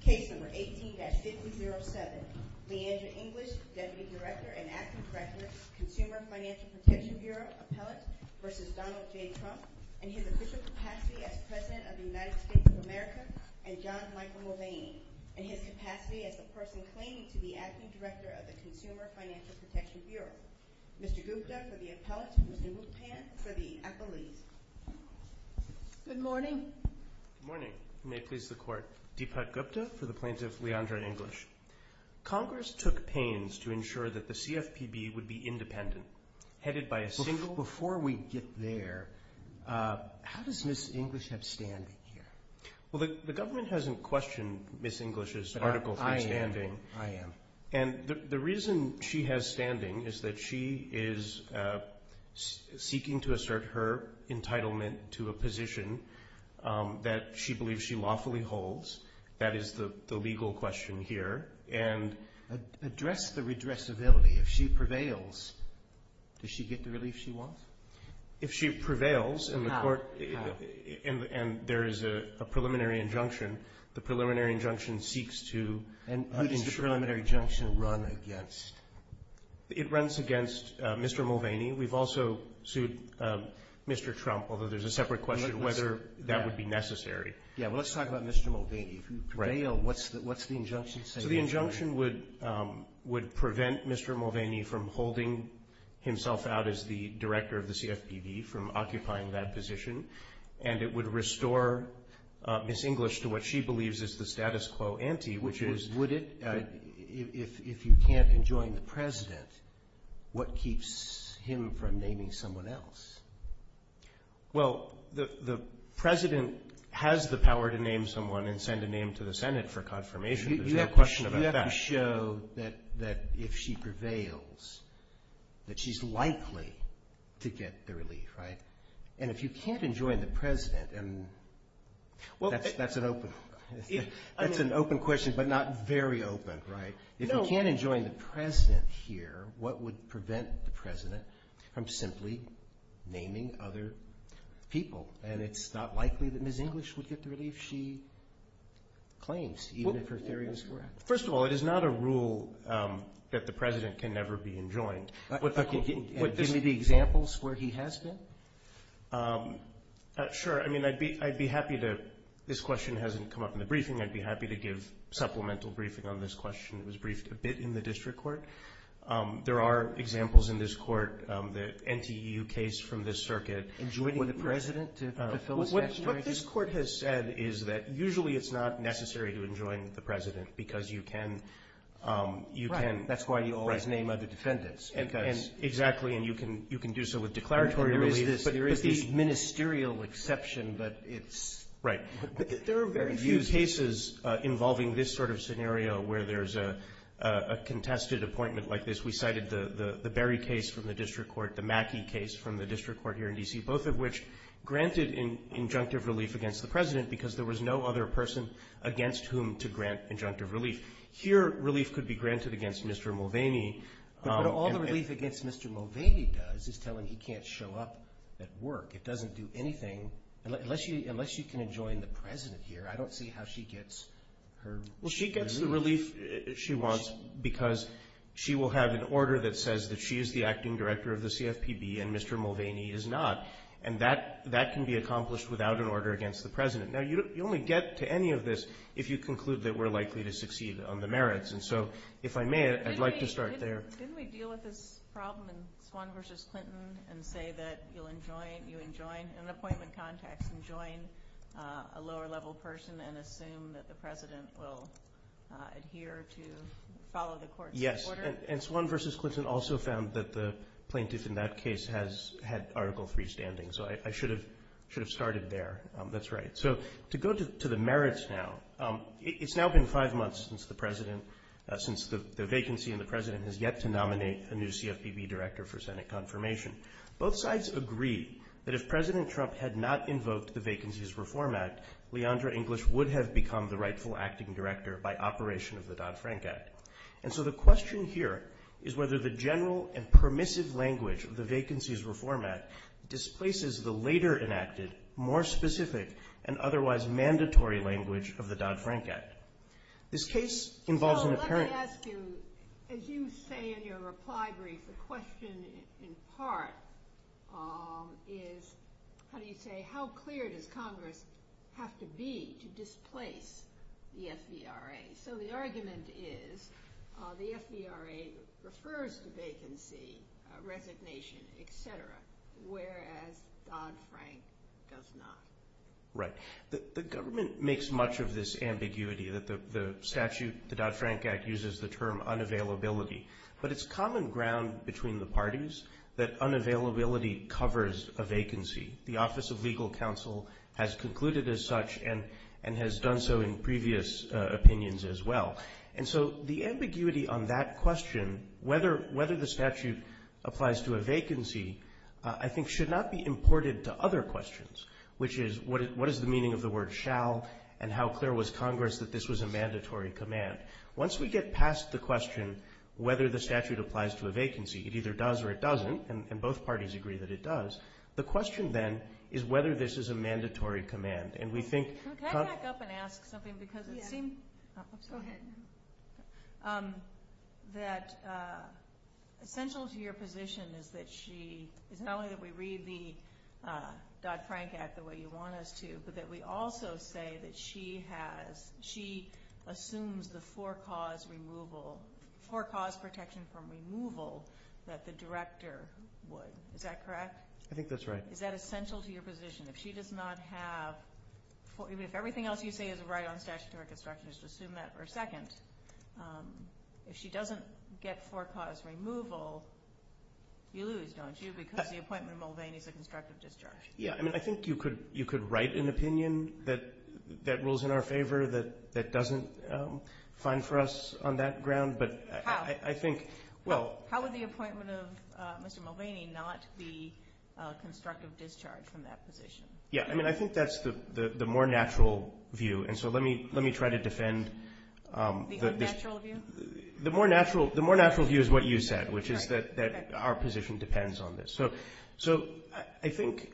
Case No. 18-5007. Leandra English, Deputy Director and Acting Director, Consumer Financial Protection Bureau, Appellate v. Donald J. Trump, and his official capacity as President of the United States of America and John Michael Mulvaney, and his capacity as the person claiming to be Acting Director of the Consumer Financial Protection Bureau. Mr. Gupta for the Appellate, Mr. Rupan for the Appellees. Good morning. Good morning. May it please the Court. Deepak Gupta for the Plaintiff, Leandra English. Congress took pains to ensure that the CFPB would be independent, headed by a single… Before we get there, how does Ms. English have standing here? Well, the government hasn't questioned Ms. English's Article III standing. I am. I am. And the reason she has standing is that she is seeking to assert her entitlement to a position that she believes she lawfully holds. That is the legal question here. And address the redressability if she prevails. Does she get the relief she wants? If she prevails in the Court… How? How? And there is a preliminary injunction. The preliminary injunction seeks to… And who does the preliminary injunction run against? It runs against Mr. Mulvaney. We've also sued Mr. Trump, although there's a separate question whether that would be necessary. Yeah. Well, let's talk about Mr. Mulvaney. If you prevail, what's the injunction saying? So the injunction would prevent Mr. Mulvaney from holding himself out as the Director of the CFPB, from occupying that position. And it would restore Ms. English to what she believes is the status quo ante, which is… Would it? If you can't enjoin the President, what keeps him from naming someone else? Well, the President has the power to name someone and send a name to the Senate for confirmation. There's no question about that. You have to show that if she prevails, that she's likely to get the relief, right? And if you can't enjoin the President, and that's an open question, but not very open, right? If you can't enjoin the President here, what would prevent the President from simply naming other people? And it's not likely that Ms. English would get the relief she claims, even if her theory is correct. First of all, it is not a rule that the President can never be enjoined. Give me the examples where he has been. Sure. I mean, I'd be happy to – this question hasn't come up in the briefing. I'd be happy to give supplemental briefing on this question. It was briefed a bit in the district court. There are examples in this court, the NTU case from this circuit. Enjoining the President to fulfill his destiny? What this Court has said is that usually it's not necessary to enjoin the President because you can… Right. That's why you always name other defendants. Exactly, and you can do so with declaratory relief. There is this ministerial exception, but it's… Right. There are very few cases involving this sort of scenario where there's a contested appointment like this. We cited the Berry case from the district court, the Mackey case from the district court here in D.C., both of which granted injunctive relief against the President because there was no other person against whom to grant injunctive relief. Here, relief could be granted against Mr. Mulvaney. But all the relief against Mr. Mulvaney does is tell him he can't show up at work. It doesn't do anything. Unless you can enjoin the President here, I don't see how she gets her relief. Well, she gets the relief she wants because she will have an order that says that she is the acting director of the CFPB and Mr. Mulvaney is not, and that can be accomplished without an order against the President. Now, you only get to any of this if you conclude that we're likely to succeed on the merits. And so if I may, I'd like to start there. Didn't we deal with this problem in Swann v. Clinton and say that you'll enjoin an appointment context and join a lower-level person and assume that the President will adhere to follow the court's order? Yes, and Swann v. Clinton also found that the plaintiff in that case had Article III standing. So I should have started there. That's right. So to go to the merits now, it's now been five months since the vacancy and the President has yet to nominate a new CFPB director for Senate confirmation. Both sides agree that if President Trump had not invoked the Vacancies Reform Act, Leandra English would have become the rightful acting director by operation of the Dodd-Frank Act. And so the question here is whether the general and permissive language of the Vacancies Reform Act displaces the later enacted, more specific, and otherwise mandatory language of the Dodd-Frank Act. This case involves an apparent- So let me ask you, as you say in your reply brief, the question in part is, how do you say, how clear does Congress have to be to displace the FVRA? So the argument is the FVRA refers to vacancy, resignation, et cetera, whereas Dodd-Frank does not. Right. The government makes much of this ambiguity that the statute, the Dodd-Frank Act, uses the term unavailability. But it's common ground between the parties that unavailability covers a vacancy. The Office of Legal Counsel has concluded as such and has done so in previous opinions as well. And so the ambiguity on that question, whether the statute applies to a vacancy, I think, should not be imported to other questions, which is, what is the meaning of the word shall and how clear was Congress that this was a mandatory command? Once we get past the question whether the statute applies to a vacancy, it either does or it doesn't, and both parties agree that it does, the question then is whether this is a mandatory command. And we think – Can I back up and ask something? Yes. Because it seemed – Go ahead. – that essential to your position is that she, it's not only that we read the Dodd-Frank Act the way you want us to, but that we also say that she has, she assumes the for-cause removal, for-cause protection from removal that the director would. Is that correct? I think that's right. Is that essential to your position? If she does not have, even if everything else you say is right on statutory construction, just assume that for a second, if she doesn't get for-cause removal, you lose, don't you, because the appointment of Mulvaney is a constructive discharge? Yeah. I mean, I think you could write an opinion that rules in our favor, that doesn't find for us on that ground, but I think – How? Well – How would the appointment of Mr. Mulvaney not be a constructive discharge from that position? Yeah. I mean, I think that's the more natural view, and so let me try to defend – The unnatural view? The more natural view is what you said, which is that our position depends on this. So I think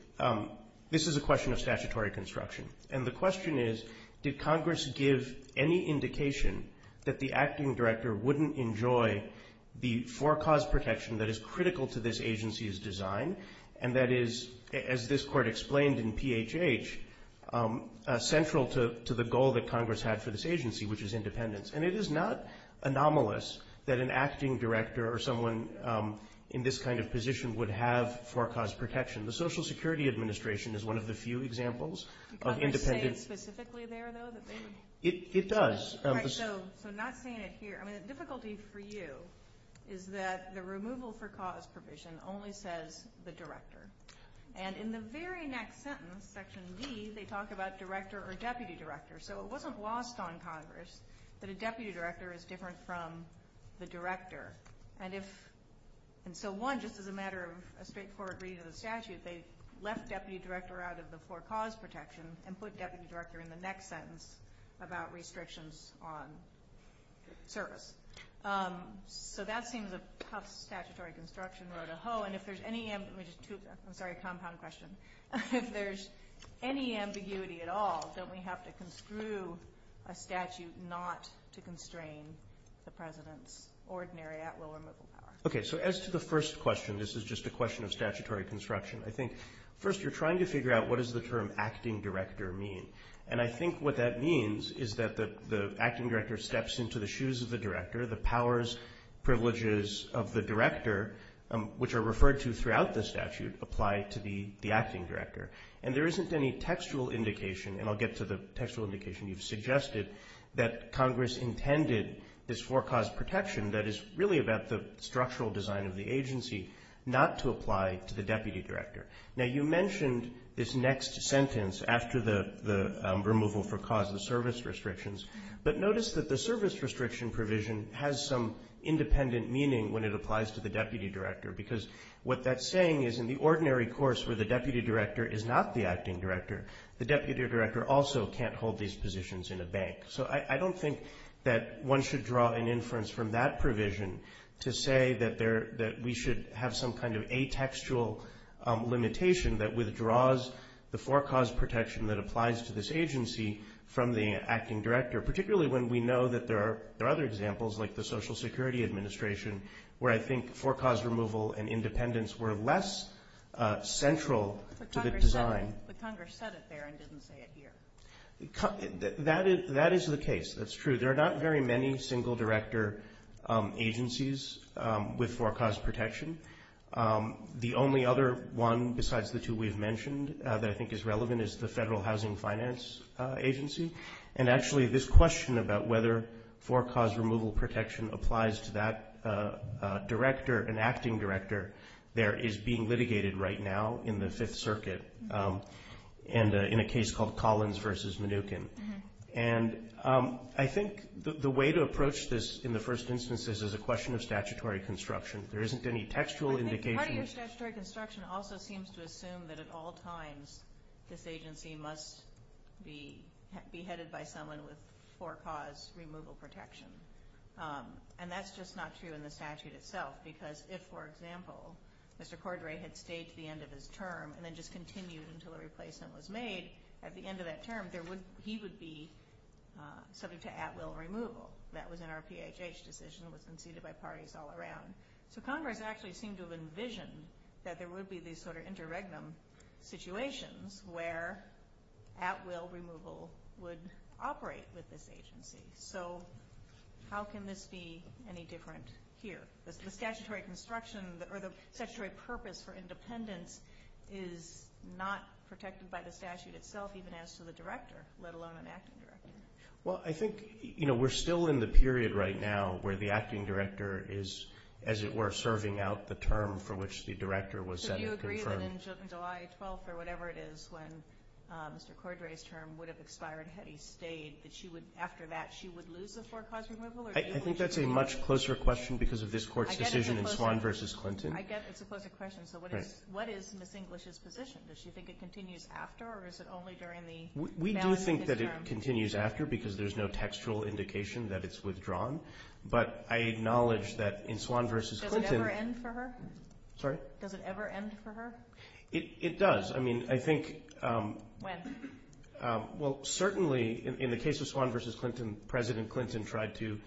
this is a question of statutory construction, and the question is did Congress give any indication that the acting director wouldn't enjoy the for-cause protection that is critical to this agency's design, and that is, as this Court explained in PHH, central to the goal that Congress had for this agency, which is independence. And it is not anomalous that an acting director or someone in this kind of position would have for-cause protection. The Social Security Administration is one of the few examples of independent – But they say it specifically there, though, that they would – It does. All right, so not saying it here. I mean, the difficulty for you is that the removal for-cause provision only says the director, and in the very next sentence, Section D, they talk about director or deputy director. So it wasn't lost on Congress that a deputy director is different from the director. And if – and so, one, just as a matter of a straightforward reading of the statute, they left deputy director out of the for-cause protection and put deputy director in the next sentence about restrictions on service. So that seems a tough statutory construction row to hoe. And if there's any – let me just – I'm sorry, compound question. If there's any ambiguity at all, don't we have to construe a statute not to constrain the president's ordinary at-will removal power? Okay, so as to the first question, this is just a question of statutory construction, I think first you're trying to figure out what does the term acting director mean. And I think what that means is that the acting director steps into the shoes of the director. The powers, privileges of the director, which are referred to throughout the statute, apply to the acting director. And there isn't any textual indication, and I'll get to the textual indication you've suggested, that Congress intended this for-cause protection that is really about the structural design of the agency not to apply to the deputy director. Now, you mentioned this next sentence after the removal for cause of service restrictions, but notice that the service restriction provision has some independent meaning when it applies to the deputy director because what that's saying is in the ordinary course where the deputy director is not the acting director, the deputy director also can't hold these positions in a bank. So I don't think that one should draw an inference from that provision to say that we should have some kind of atextual limitation that withdraws the for-cause protection that applies to this agency from the acting director, particularly when we know that there are other examples like the Social Security Administration where I think for-cause removal and independence were less central to the design. But Congress said it there and didn't say it here. That is the case. That's true. There are not very many single director agencies with for-cause protection. The only other one besides the two we've mentioned that I think is relevant is the Federal Housing Finance Agency. And actually this question about whether for-cause removal protection applies to that director, an acting director, there is being litigated right now in the Fifth Circuit in a case called Collins v. Mnookin. And I think the way to approach this in the first instance is as a question of statutory construction. There isn't any textual indication. Part of your statutory construction also seems to assume that at all times this agency must be headed by someone with for-cause removal protection. And that's just not true in the statute itself because if, for example, Mr. Cordray had stayed to the end of his term and then just continued until a replacement was made, at the end of that term he would be subject to at-will removal. That was in our PHH decision. It was conceded by parties all around. So Congress actually seemed to have envisioned that there would be these sort of interregnum situations where at-will removal would operate with this agency. So how can this be any different here? The statutory construction or the statutory purpose for independence is not protected by the statute itself, even as to the director, let alone an acting director. Well, I think, you know, we're still in the period right now where the acting director is, as it were, serving out the term for which the director was set or confirmed. So do you agree that in July 12th or whatever it is when Mr. Cordray's term would have expired had he stayed, that after that she would lose the for-cause removal? I think that's a much closer question because of this Court's decision in Swan v. Clinton. I get it's a closer question. So what is Ms. English's position? We do think that it continues after because there's no textual indication that it's withdrawn. But I acknowledge that in Swan v. Clinton – Does it ever end for her? Sorry? Does it ever end for her? It does. I mean, I think – When? Well, certainly in the case of Swan v. Clinton, President Clinton tried to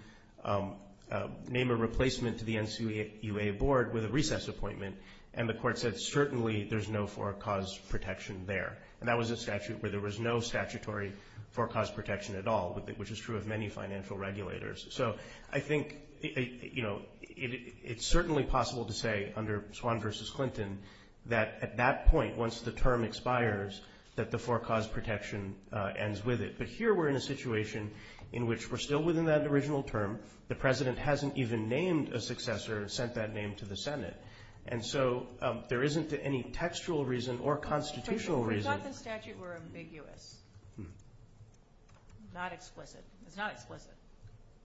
name a replacement to the NCUA board with a recess appointment, and the Court said certainly there's no for-cause protection there. And that was a statute where there was no statutory for-cause protection at all, which is true of many financial regulators. So I think it's certainly possible to say under Swan v. Clinton that at that point, once the term expires, that the for-cause protection ends with it. But here we're in a situation in which we're still within that original term. The President hasn't even named a successor or sent that name to the Senate. Without the statute, we're ambiguous. Not explicit. It's not explicit.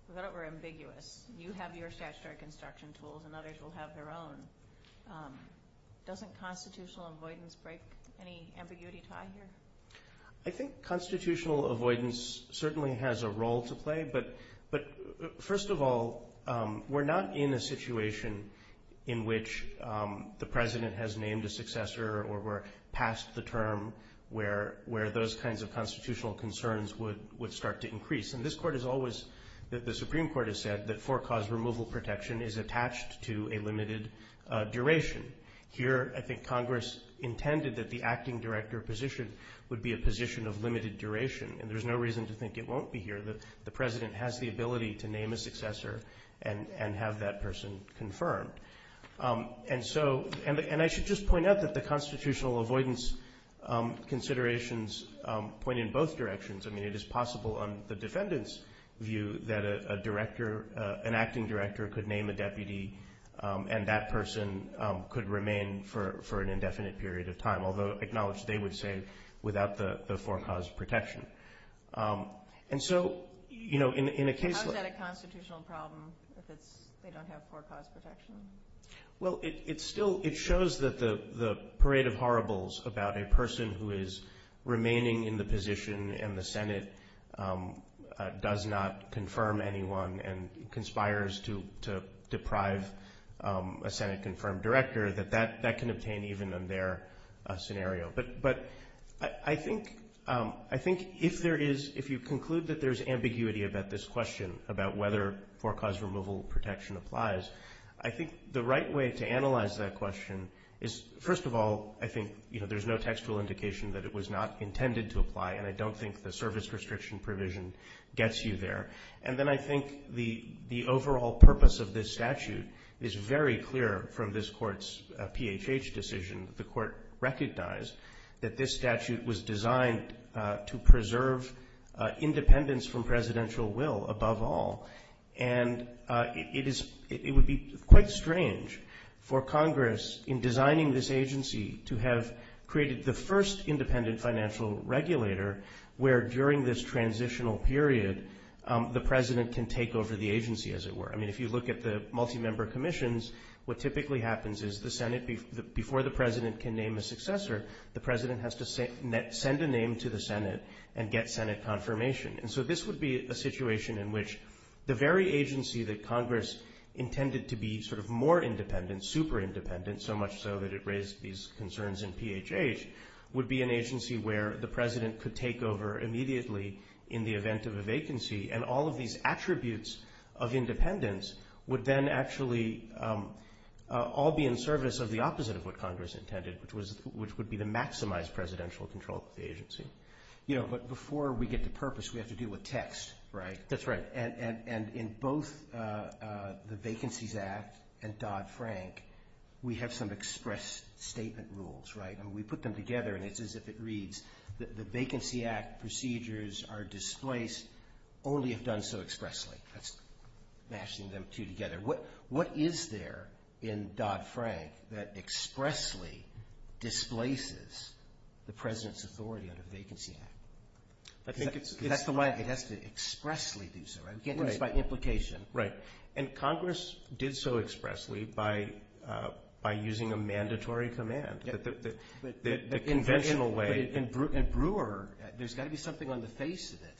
Without it, we're ambiguous. You have your statutory construction tools, and others will have their own. Doesn't constitutional avoidance break any ambiguity tie here? I think constitutional avoidance certainly has a role to play. But first of all, we're not in a situation in which the President has named a successor or we're past the term where those kinds of constitutional concerns would start to increase. And this Court has always, the Supreme Court has said, that for-cause removal protection is attached to a limited duration. Here, I think Congress intended that the acting director position would be a position of limited duration. And there's no reason to think it won't be here. The President has the ability to name a successor and have that person confirmed. And I should just point out that the constitutional avoidance considerations point in both directions. I mean, it is possible on the defendant's view that an acting director could name a deputy and that person could remain for an indefinite period of time, although acknowledged they would stay without the for-cause protection. How is that a constitutional problem if they don't have for-cause protection? Well, it shows that the parade of horribles about a person who is remaining in the position and the Senate does not confirm anyone and conspires to deprive a Senate-confirmed director, that that can obtain even in their scenario. But I think if you conclude that there's ambiguity about this question, about whether for-cause removal protection applies, I think the right way to analyze that question is, first of all, I think there's no textual indication that it was not intended to apply, and I don't think the service restriction provision gets you there. And then I think the overall purpose of this statute is very clear from this Court's PHH decision. The Court recognized that this statute was designed to preserve independence from presidential will above all. And it would be quite strange for Congress, in designing this agency, to have created the first independent financial regulator where, during this transitional period, the president can take over the agency, as it were. I mean, if you look at the multi-member commissions, what typically happens is before the president can name a successor, the president has to send a name to the Senate and get Senate confirmation. And so this would be a situation in which the very agency that Congress intended to be sort of more independent, super independent, so much so that it raised these concerns in PHH, would be an agency where the president could take over immediately in the event of a vacancy, and all of these attributes of independence would then actually all be in service of the opposite of what Congress intended, which would be to maximize presidential control of the agency. You know, but before we get to purpose, we have to deal with text, right? That's right. And in both the Vacancies Act and Dodd-Frank, we have some express statement rules, right? We put them together, and it's as if it reads, the Vacancy Act procedures are displaced only if done so expressly. That's mashing them two together. What is there in Dodd-Frank that expressly displaces the president's authority under the Vacancy Act? I think it's- Because that's the way it has to expressly do so, right? We can't do this by implication. Right, and Congress did so expressly by using a mandatory command. The conventional way- But in Brewer, there's got to be something on the face of it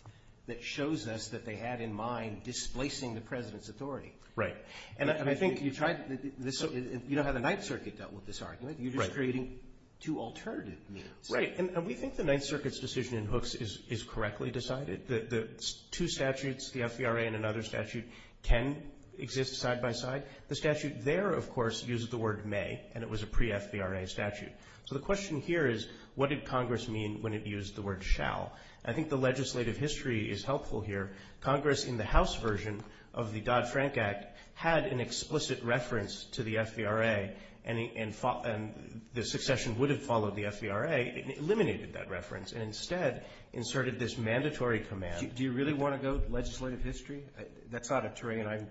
that shows us that they had in mind displacing the president's authority. Right. And I think you tried- you don't have the Ninth Circuit dealt with this argument. You're just creating two alternative means. Right, and we think the Ninth Circuit's decision in Hooks is correctly decided. The two statutes, the FVRA and another statute, can exist side by side. The statute there, of course, uses the word may, and it was a pre-FVRA statute. So the question here is, what did Congress mean when it used the word shall? I think the legislative history is helpful here. Congress, in the House version of the Dodd-Frank Act, had an explicit reference to the FVRA, and the succession would have followed the FVRA. It eliminated that reference and instead inserted this mandatory command. Do you really want to go to legislative history? That's not a terrain I'm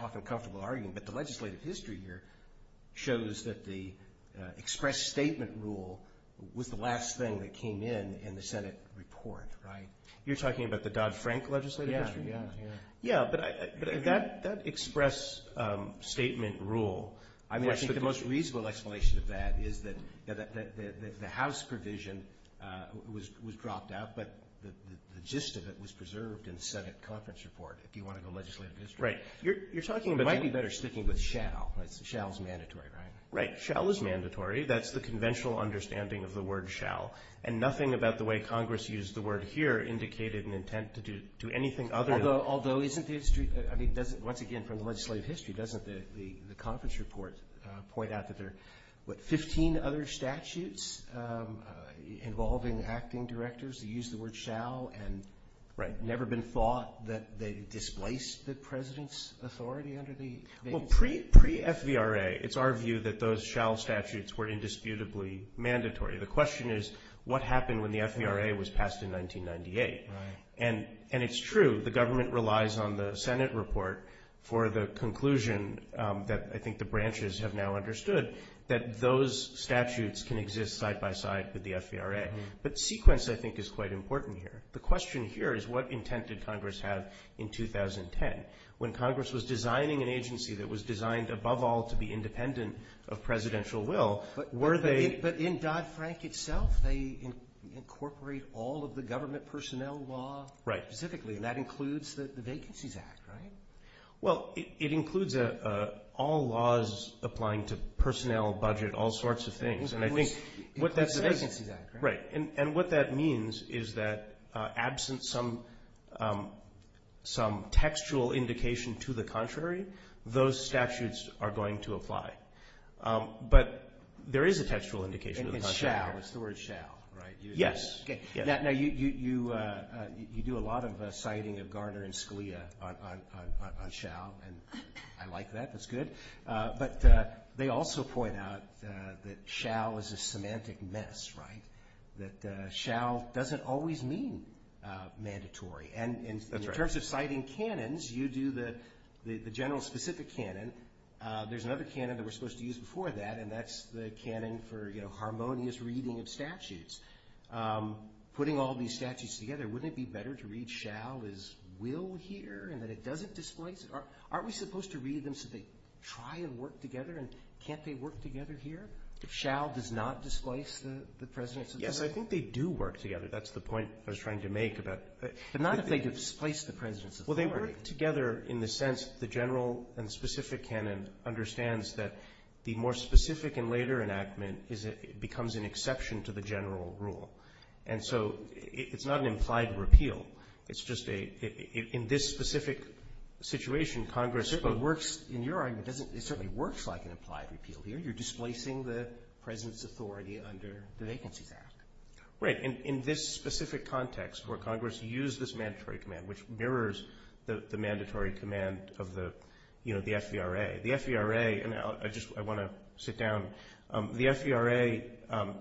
often comfortable arguing, but the legislative history here shows that the express statement rule was the last thing that came in in the Senate report. Right. You're talking about the Dodd-Frank legislative history? Yeah. Yeah, but that express statement rule, I mean, I think the most reasonable explanation of that is that the House provision was dropped out, but the gist of it was preserved in the Senate conference report. If you want to go legislative history. Right. You're talking about the might be better sticking with shall. Shall is mandatory, right? Right. Shall is mandatory. That's the conventional understanding of the word shall, and nothing about the way Congress used the word here indicated an intent to do anything other than Although, isn't the history, I mean, once again, from the legislative history, doesn't the conference report point out that there are, what, 15 other statutes involving acting directors that use the word shall and never been thought that they displaced the president's authority under the Well, pre-FVRA, it's our view that those shall statutes were indisputably mandatory. The question is, what happened when the FVRA was passed in 1998? Right. And it's true. The government relies on the Senate report for the conclusion that I think the branches have now understood, that those statutes can exist side by side with the FVRA. But sequence, I think, is quite important here. The question here is, what intent did Congress have in 2010? When Congress was designing an agency that was designed, above all, to be independent of presidential will, were they But in Dodd-Frank itself, they incorporate all of the government personnel law. Right. Specifically, and that includes the Vacancies Act, right? Well, it includes all laws applying to personnel, budget, all sorts of things, and I think Right. And what that means is that absent some textual indication to the contrary, those statutes are going to apply. But there is a textual indication to the contrary. And it's shall. It's the word shall, right? Yes. Now, you do a lot of citing of Garner and Scalia on shall, and I like that. That's good. But they also point out that shall is a semantic mess, right? That shall doesn't always mean mandatory. That's right. And in terms of citing canons, you do the general specific canon. There's another canon that we're supposed to use before that, and that's the canon for harmonious reading of statutes. Putting all these statutes together, wouldn't it be better to read shall as will here and that it doesn't displace it? Aren't we supposed to read them so they try and work together? And can't they work together here if shall does not displace the president's authority? Yes, I think they do work together. That's the point I was trying to make. But not if they displace the president's authority. Well, they work together in the sense the general and specific canon understands that the more specific and later enactment becomes an exception to the general rule. And so it's not an implied repeal. It's just in this specific situation, Congress works. In your argument, it certainly works like an implied repeal here. You're displacing the president's authority under the Vacancies Act. Right. In this specific context where Congress used this mandatory command, which mirrors the mandatory command of the FVRA. The FVRA, and I just want to sit down, the FVRA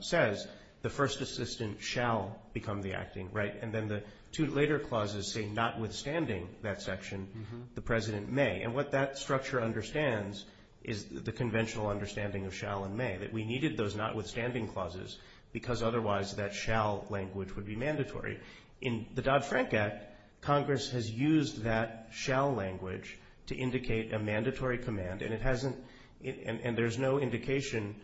says the first assistant shall become the acting, right? And then the two later clauses say notwithstanding that section, the president may. And what that structure understands is the conventional understanding of shall and may, that we needed those notwithstanding clauses because otherwise that shall language would be mandatory. In the Dodd-Frank Act, Congress has used that shall language to indicate a mandatory command, and there's no indication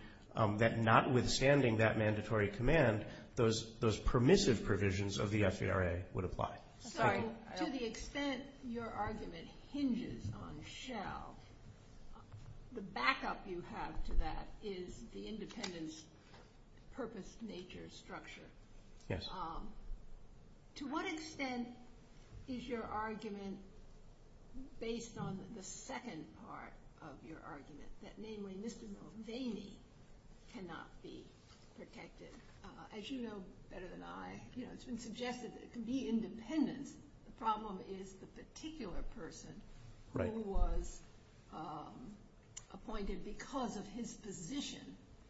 that notwithstanding that mandatory command, those permissive provisions of the FVRA would apply. Sorry, to the extent your argument hinges on shall, the backup you have to that is the independence purpose nature structure. Yes. To what extent is your argument based on the second part of your argument, that namely Mr. Mulvaney cannot be protected? As you know better than I, it's been suggested that it can be independence. His problem is the particular person who was appointed because of his position.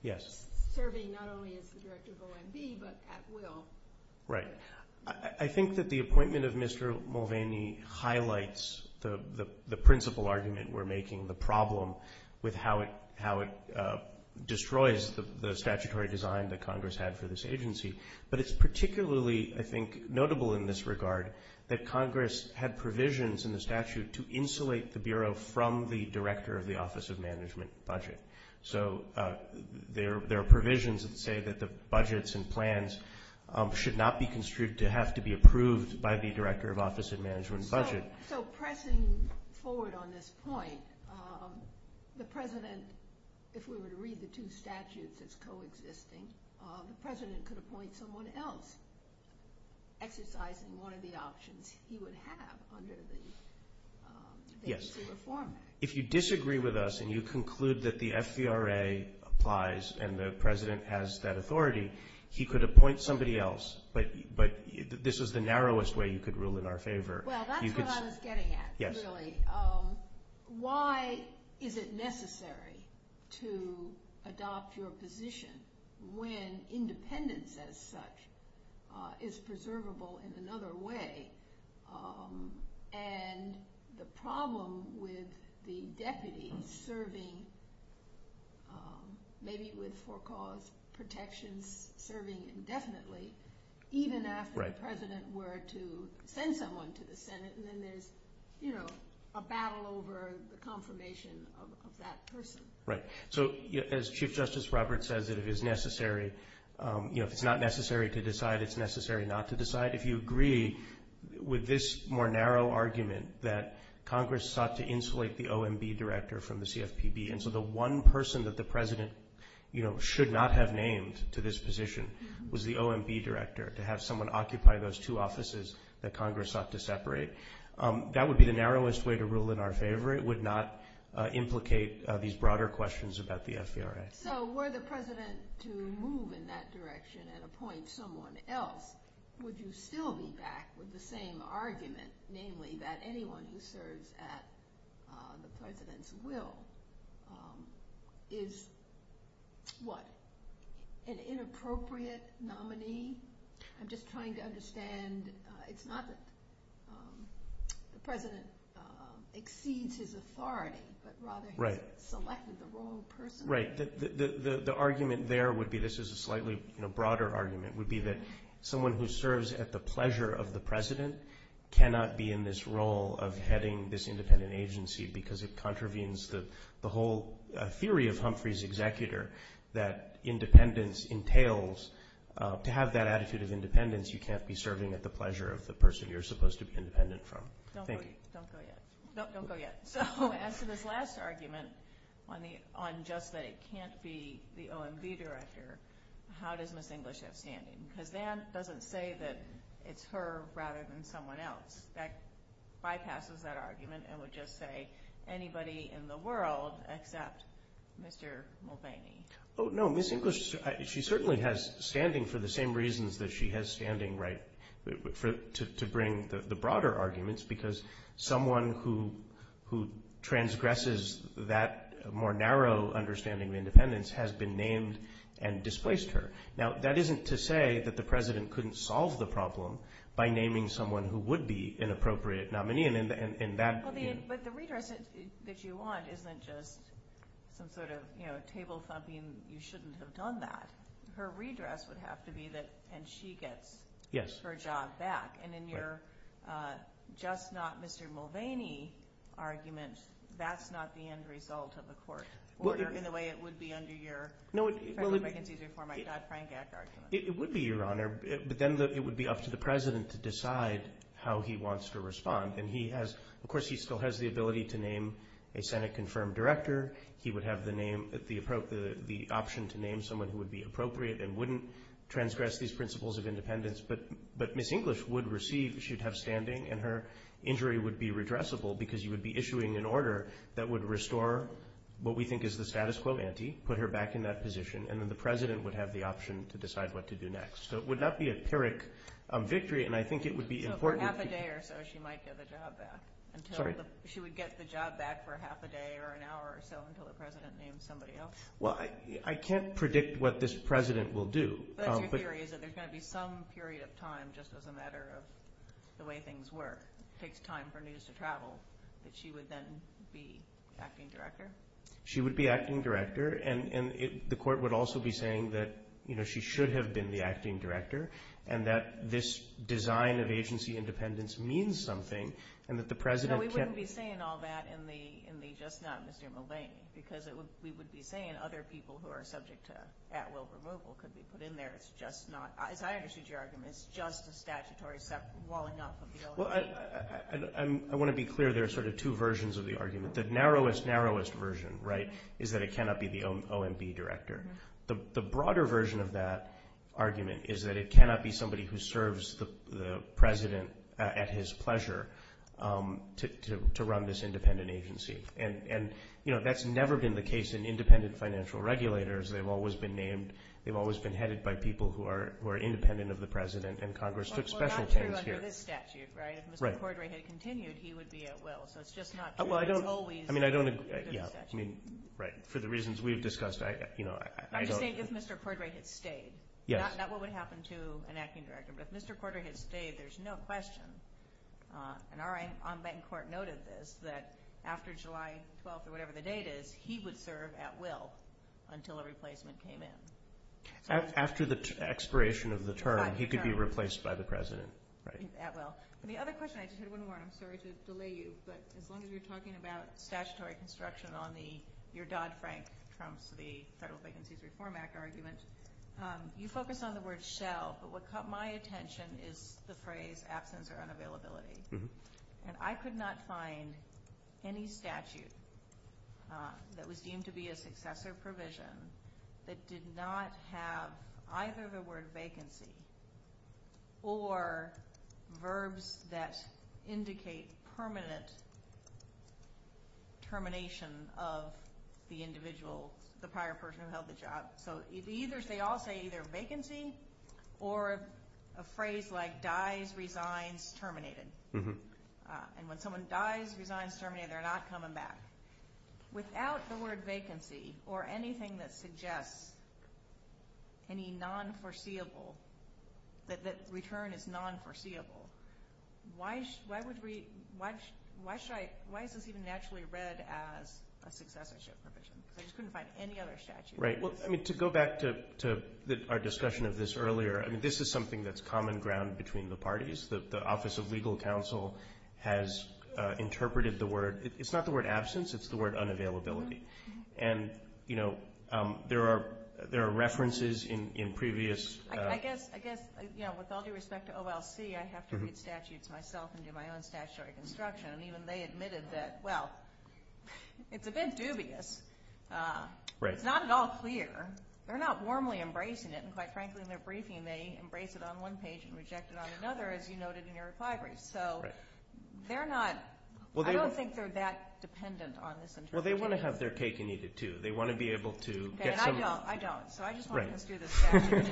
Yes. Serving not only as the director of OMB but at will. Right. I think that the appointment of Mr. Mulvaney highlights the principal argument we're making, the problem with how it destroys the statutory design that Congress had for this agency. But it's particularly, I think, notable in this regard that Congress had provisions in the statute to insulate the Bureau from the director of the Office of Management and Budget. So there are provisions that say that the budgets and plans should not be construed to have to be approved by the director of Office of Management and Budget. So pressing forward on this point, the President, if we were to read the two statutes that's coexisting, the President could appoint someone else exercising one of the options he would have under the Agency Reform Act. Yes. If you disagree with us and you conclude that the FVRA applies and the President has that authority, he could appoint somebody else. But this is the narrowest way you could rule in our favor. Well, that's what I was getting at, really. Why is it necessary to adopt your position when independence as such is preservable in another way and the problem with the deputy serving maybe with for-cause protections serving indefinitely, even after the President were to send someone to the Senate and then there's a battle over the confirmation of that person? Right. So as Chief Justice Roberts says, if it's not necessary to decide, it's necessary not to decide. If you agree with this more narrow argument that Congress sought to insulate the OMB director from the CFPB, and so the one person that the President should not have named to this position was the OMB director, to have someone occupy those two offices that Congress sought to separate, that would be the narrowest way to rule in our favor. It would not implicate these broader questions about the FVRA. So were the President to move in that direction and appoint someone else, would you still be back with the same argument, namely that anyone who serves at the President's will is, what, an inappropriate nominee? I'm just trying to understand. It's not that the President exceeds his authority, but rather he's selected the wrong person. Right. The argument there would be, this is a slightly broader argument, would be that someone who serves at the pleasure of the President cannot be in this role of heading this independent agency because it contravenes the whole theory of Humphrey's executor that independence entails. To have that attitude of independence, you can't be serving at the pleasure of the person you're supposed to be independent from. Don't go yet. Don't go yet. So as to this last argument on just that it can't be the OMB director, how does Ms. English have standing? Because that doesn't say that it's her rather than someone else. That bypasses that argument and would just say anybody in the world except Mr. Mulvaney. Oh, no, Ms. English, she certainly has standing for the same reasons that she has standing, right, to bring the broader arguments because someone who transgresses that more narrow understanding of independence has been named and displaced her. Now, that isn't to say that the President couldn't solve the problem by naming someone who would be an appropriate nominee. But the redress that you want isn't just some sort of table-thumping, you shouldn't have done that. Her redress would have to be that and she gets her job back. And in your just not Mr. Mulvaney argument, that's not the end result of a court order in the way it would be under your Federal Vacancies Reform Act, Dodd-Frank Act argument. It would be, Your Honor, but then it would be up to the President to decide how he wants to respond. And he has, of course, he still has the ability to name a Senate confirmed director. He would have the option to name someone who would be appropriate and wouldn't transgress these principles of independence. But Ms. English would receive, she'd have standing, and her injury would be redressable because you would be issuing an order that would restore what we think is the status quo ante, put her back in that position, and then the President would have the option to decide what to do next. So it would not be a pyrrhic victory, and I think it would be important. Half a day or so she might get the job back. Sorry? She would get the job back for half a day or an hour or so until the President names somebody else. Well, I can't predict what this President will do. But your theory is that there's going to be some period of time, just as a matter of the way things work, it takes time for news to travel, that she would then be acting director? She would be acting director, and the Court would also be saying that she should have been the acting director, and that this design of agency independence means something, and that the President can't No, we wouldn't be saying all that in the just not Mr. Mulvaney, because we would be saying other people who are subject to at-will removal could be put in there. It's just not, as I understood your argument, it's just a statutory walling up of the OECD. Well, I want to be clear. There are sort of two versions of the argument. The narrowest, narrowest version, right, is that it cannot be the OMB director. The broader version of that argument is that it cannot be somebody who serves the President at his pleasure to run this independent agency. And, you know, that's never been the case in independent financial regulators. They've always been named. They've always been headed by people who are independent of the President, and Congress took special chance here. Well, under this statute, right, if Mr. Cordray had continued, he would be at-will. So it's just not true. Well, I don't agree. I mean, I don't agree. Yeah, I mean, right. For the reasons we've discussed, you know, I don't I'm just saying if Mr. Cordray had stayed. Yes. Not what would happen to an acting director, but if Mr. Cordray had stayed, there's no question. And our on-bank court noted this, that after July 12th or whatever the date is, he would serve at-will until a replacement came in. After the expiration of the term, he could be replaced by the President, right? At-will. The other question, I just had one more. I'm sorry to delay you, but as long as you're talking about statutory construction on the your Dodd-Frank trumps the Federal Vacancies Reform Act argument, you focus on the word shell, but what caught my attention is the phrase absence or unavailability. And I could not find any statute that was deemed to be a successor provision that did not have either the word vacancy or verbs that indicate permanent termination of the individual, the prior person who held the job. So they all say either vacancy or a phrase like dies, resigns, terminated. And when someone dies, resigns, terminated, they're not coming back. Without the word vacancy or anything that suggests any non-foreseeable, that return is non-foreseeable, why is this even naturally read as a successorship provision? I just couldn't find any other statute. Right. Well, I mean, to go back to our discussion of this earlier, this is something that's common ground between the parties. The Office of Legal Counsel has interpreted the word. It's not the word absence. It's the word unavailability. And, you know, there are references in previous. I guess, you know, with all due respect to OLC, I have to read statutes myself and do my own statutory construction. And even they admitted that, well, it's a bit dubious. It's not at all clear. They're not warmly embracing it. And, quite frankly, in their briefing, they embrace it on one page and reject it on another, as you noted in your reply brief. So they're not – I don't think they're that dependent on this interpretation. Well, they want to have their cake and eat it, too. They want to be able to get some – Okay. And I don't. I don't. So I just want to construe this statute.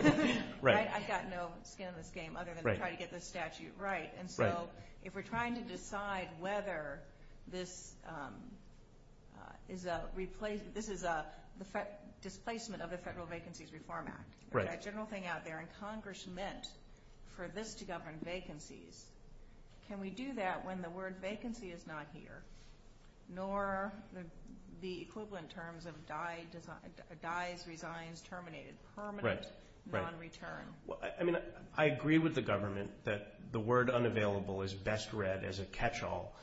Right. I've got no skin in this game other than to try to get this statute right. Right. So if we're trying to decide whether this is a – this is a displacement of the Federal Vacancies Reform Act. Right. That general thing out there. And Congress meant for this to govern vacancies. Can we do that when the word vacancy is not here, nor the equivalent terms of dies, resigns, terminated, permanent, non-return? Right. Well, I mean, I agree with the government that the word unavailable is best read as a catch-all.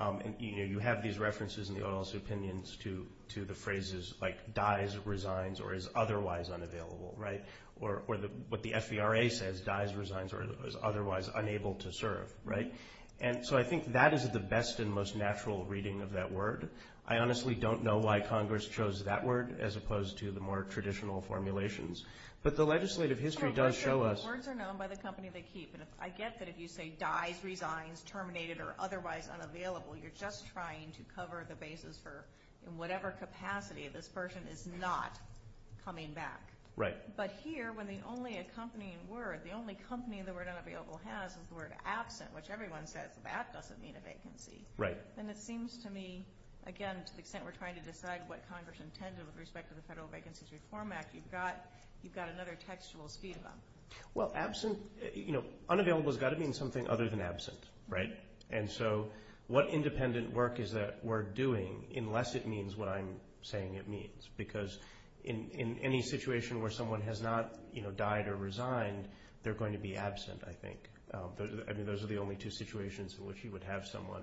And, you know, you have these references in the OLS opinions to the phrases like dies, resigns, or is otherwise unavailable. Right. Or what the FVRA says, dies, resigns, or is otherwise unable to serve. Right. And so I think that is the best and most natural reading of that word. I honestly don't know why Congress chose that word as opposed to the more traditional formulations. But the legislative history does show us – But words are known by the company they keep. And I get that if you say dies, resigns, terminated, or otherwise unavailable, you're just trying to cover the basis for in whatever capacity this person is not coming back. Right. But here, when the only accompanying word, the only company the word unavailable has is the word absent, which everyone says that doesn't mean a vacancy. Right. And it seems to me, again, to the extent we're trying to decide what Congress intended with respect to the Federal Vacancies Reform Act, you've got another textual speed bump. Well, absent – you know, unavailable has got to mean something other than absent. Right. And so what independent work is that word doing unless it means what I'm saying it means? Because in any situation where someone has not, you know, died or resigned, they're going to be absent, I think. I mean, those are the only two situations in which you would have someone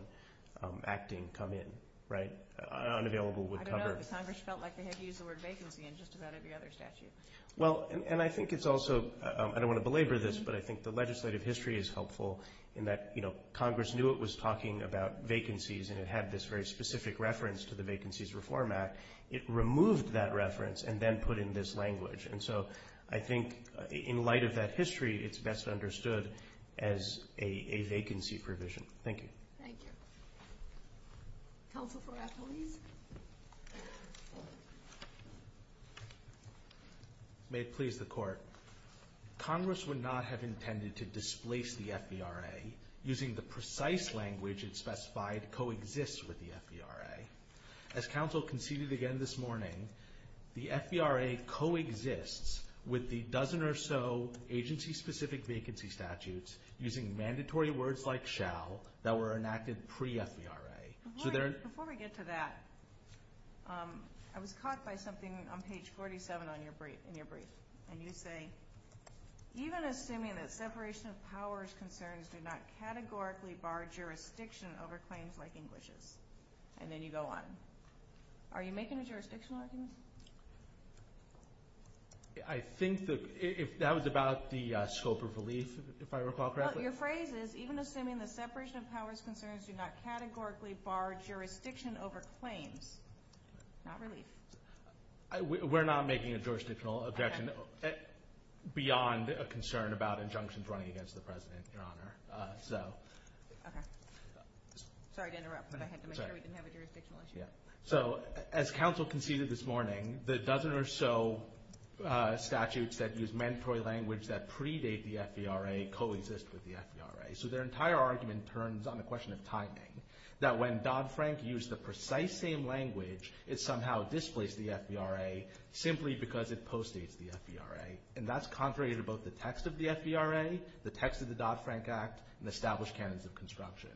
acting come in. Right. Unavailable would cover – But Congress felt like they had used the word vacancy in just about every other statute. Well, and I think it's also – I don't want to belabor this, but I think the legislative history is helpful in that, you know, Congress knew it was talking about vacancies, and it had this very specific reference to the Vacancies Reform Act. It removed that reference and then put in this language. And so I think in light of that history, it's best understood as a vacancy provision. Thank you. Thank you. Counsel Farratt, please. May it please the Court, Congress would not have intended to displace the FVRA using the precise language it specified coexists with the FVRA. As Counsel conceded again this morning, the FVRA coexists with the dozen or so agency-specific vacancy statutes using mandatory words like shall that were enacted pre-FVRA. Before we get to that, I was caught by something on page 47 in your brief, and you say, even assuming that separation of powers concerns do not categorically bar jurisdiction over claims like English's. And then you go on. Are you making a jurisdictional argument? I think that was about the scope of relief, if I recall correctly. Your phrase is, even assuming the separation of powers concerns do not categorically bar jurisdiction over claims, not relief. We're not making a jurisdictional objection beyond a concern about injunctions running against the President, Your Honor. Okay. Sorry to interrupt, but I had to make sure we didn't have a jurisdictional issue. So as Counsel conceded this morning, the dozen or so statutes that use mandatory language that predate the FVRA coexist with the FVRA. So their entire argument turns on a question of timing, that when Dodd-Frank used the precise same language, it somehow displaced the FVRA simply because it postdates the FVRA. And that's contrary to both the text of the FVRA, the text of the Dodd-Frank Act, and established canons of construction.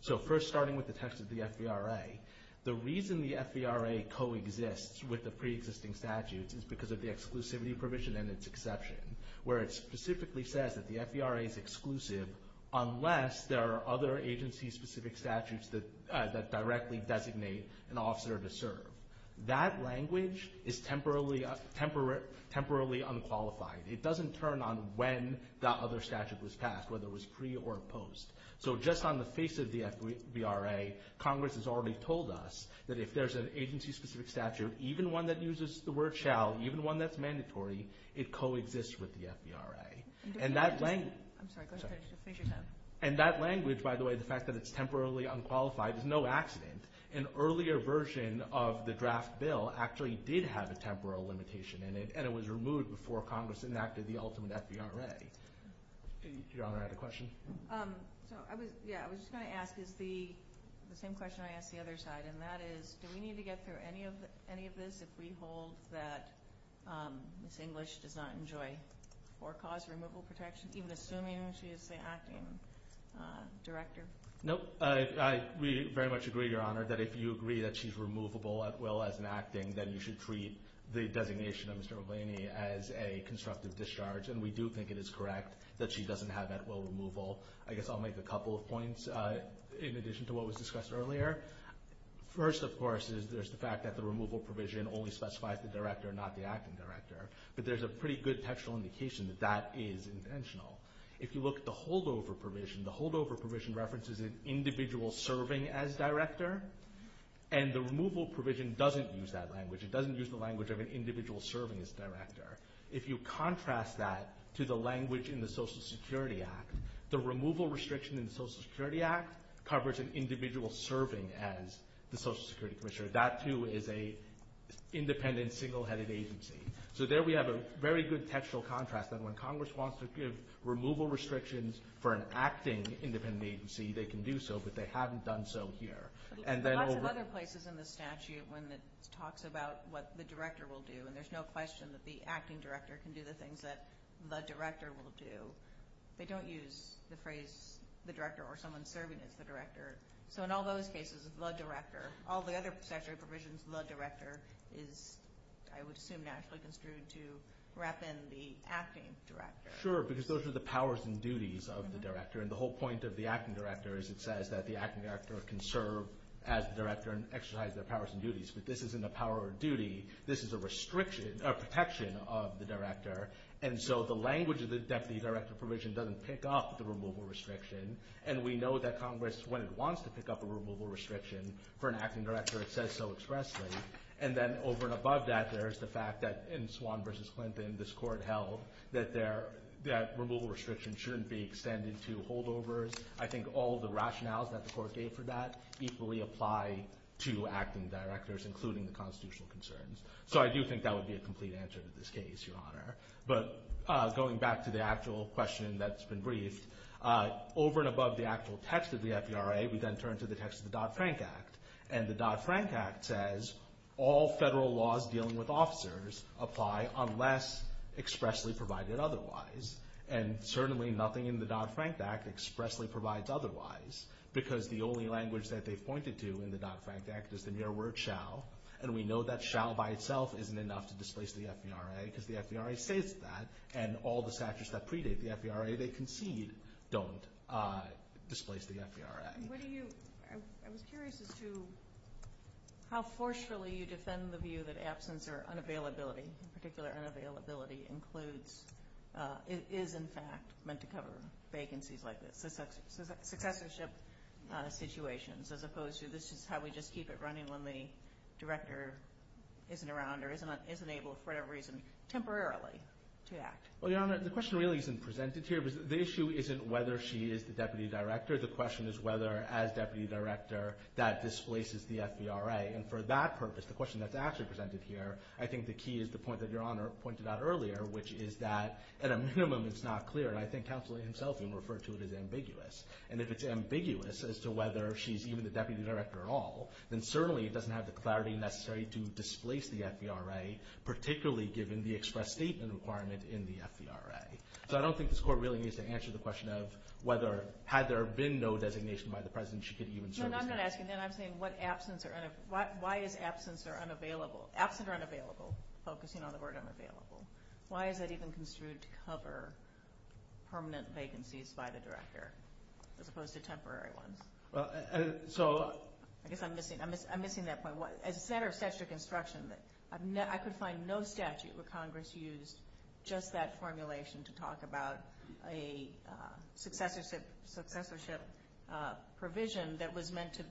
So first, starting with the text of the FVRA, the reason the FVRA coexists with the preexisting statutes is because of the exclusivity provision and its exception, where it specifically says that the FVRA is exclusive unless there are other agency-specific statutes that directly designate an officer to serve. That language is temporarily unqualified. It doesn't turn on when the other statute was passed, whether it was pre or post. So just on the face of the FVRA, Congress has already told us that if there's an agency-specific statute, even one that uses the word shall, even one that's mandatory, it coexists with the FVRA. And that language, by the way, the fact that it's temporarily unqualified is no accident. An earlier version of the draft bill actually did have a temporal limitation in it, and it was removed before Congress enacted the ultimate FVRA. Your Honor, I had a question. Yeah, I was just going to ask the same question I asked the other side, and that is do we need to get through any of this if we hold that Ms. English does not enjoy or cause removal protection, even assuming she is the acting director? Nope. We very much agree, Your Honor, that if you agree that she's removable at will as an acting, then you should treat the designation of Mr. Mulvaney as a constructive discharge, and we do think it is correct that she doesn't have at will removal. I guess I'll make a couple of points in addition to what was discussed earlier. First, of course, is there's the fact that the removal provision only specifies the director, not the acting director, but there's a pretty good textual indication that that is intentional. If you look at the holdover provision, the holdover provision references an individual serving as director, and the removal provision doesn't use that language. It doesn't use the language of an individual serving as director. If you contrast that to the language in the Social Security Act, the removal restriction in the Social Security Act covers an individual serving as the Social Security Commissioner. That, too, is an independent, single-headed agency. So there we have a very good textual contrast that when Congress wants to give removal restrictions for an acting independent agency, they can do so, but they haven't done so here. Lots of other places in the statute when it talks about what the director will do, and there's no question that the acting director can do the things that the director will do, they don't use the phrase the director or someone serving as the director. So in all those cases, the director. All the other statutory provisions, the director is, I would assume, naturally construed to wrap in the acting director. Sure, because those are the powers and duties of the director, and the whole point of the acting director is it says that the acting director can serve as the director This is a protection of the director, and so the language of the deputy director provision doesn't pick up the removal restriction, and we know that Congress, when it wants to pick up a removal restriction for an acting director, it says so expressly. And then over and above that, there's the fact that in Swan v. Clinton, this court held that removal restrictions shouldn't be extended to holdovers. I think all the rationales that the court gave for that equally apply to acting directors, including the constitutional concerns. So I do think that would be a complete answer to this case, Your Honor. But going back to the actual question that's been briefed, over and above the actual text of the FERA, we then turn to the text of the Dodd-Frank Act, and the Dodd-Frank Act says all federal laws dealing with officers apply unless expressly provided otherwise. And certainly nothing in the Dodd-Frank Act expressly provides otherwise, because the only language that they've pointed to in the Dodd-Frank Act is the mere word shall, and we know that shall by itself isn't enough to displace the FERA, because the FERA says that, and all the statutes that predate the FERA they concede don't displace the FERA. I was curious as to how forcefully you defend the view that absence or unavailability, in particular unavailability, is in fact meant to cover vacancies like this, successorship situations, as opposed to this is how we just keep it running when the director isn't around or isn't able for whatever reason temporarily to act. Well, Your Honor, the question really isn't presented here. The issue isn't whether she is the deputy director. The question is whether as deputy director that displaces the FERA. And for that purpose, the question that's actually presented here, I think the key is the point that Your Honor pointed out earlier, which is that at a minimum it's not clear. And I think counsel himself even referred to it as ambiguous. And if it's ambiguous as to whether she's even the deputy director at all, then certainly it doesn't have the clarity necessary to displace the FERA, particularly given the express statement requirement in the FERA. So I don't think this Court really needs to answer the question of whether, had there been no designation by the President, she could even serve as deputy director. No, I'm not asking that. I'm saying why is absence or unavailable focusing on the word unavailable? Why is that even construed to cover permanent vacancies by the director as opposed to temporary ones? I guess I'm missing that point. As a center of statute of construction, I could find no statute where Congress used just that formulation to talk about a successorship provision that was meant to,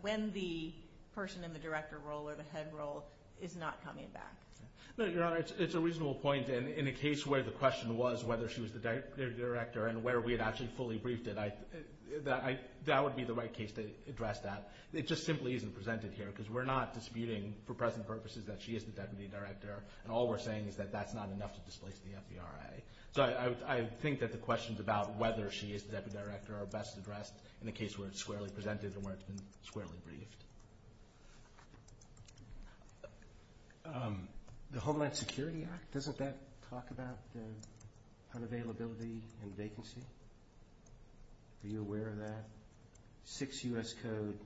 when the person in the director role or the head role is not coming back. No, Your Honor, it's a reasonable point. And in a case where the question was whether she was the deputy director and where we had actually fully briefed it, that would be the right case to address that. It just simply isn't presented here because we're not disputing for present purposes that she is the deputy director. And all we're saying is that that's not enough to displace the FERA. So I think that the questions about whether she is the deputy director are best addressed in a case where it's squarely presented and where it's been squarely briefed. The Homeland Security Act, doesn't that talk about unavailability and vacancy? Are you aware of that? 6 U.S. Code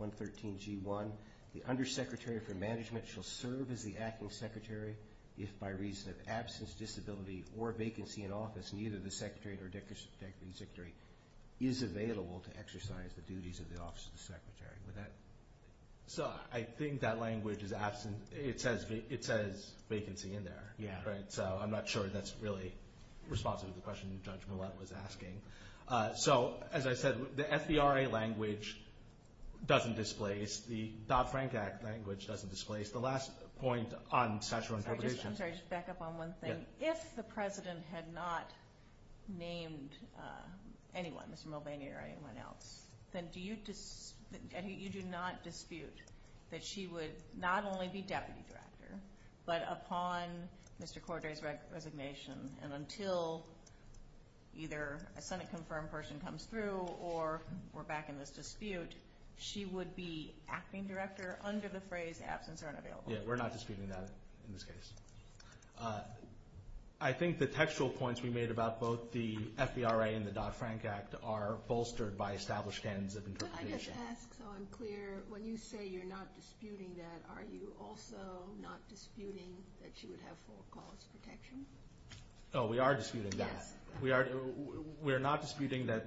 113-G1, the undersecretary for management shall serve as the acting secretary if by reason of absence, disability, or vacancy in office, neither the secretary or deputy secretary is available to exercise the duties of the office of the secretary. So I think that language is absent. It says vacancy in there. So I'm not sure that's really responsive to the question Judge Millett was asking. So as I said, the FERA language doesn't displace. The Dodd-Frank Act language doesn't displace. The last point on statutory interpretation. I'm sorry, just to back up on one thing. If the President had not named anyone, Mr. Mulvaney or anyone else, then you do not dispute that she would not only be deputy director, but upon Mr. Cordray's resignation and until either a Senate-confirmed person comes through or we're back in this dispute, she would be acting director under the phrase absence or unavailability. Yeah, we're not disputing that in this case. I think the textual points we made about both the FERA and the Dodd-Frank Act are bolstered by established standards of interpretation. I just ask so I'm clear, when you say you're not disputing that, are you also not disputing that she would have full cause protection? Oh, we are disputing that. We are not disputing that,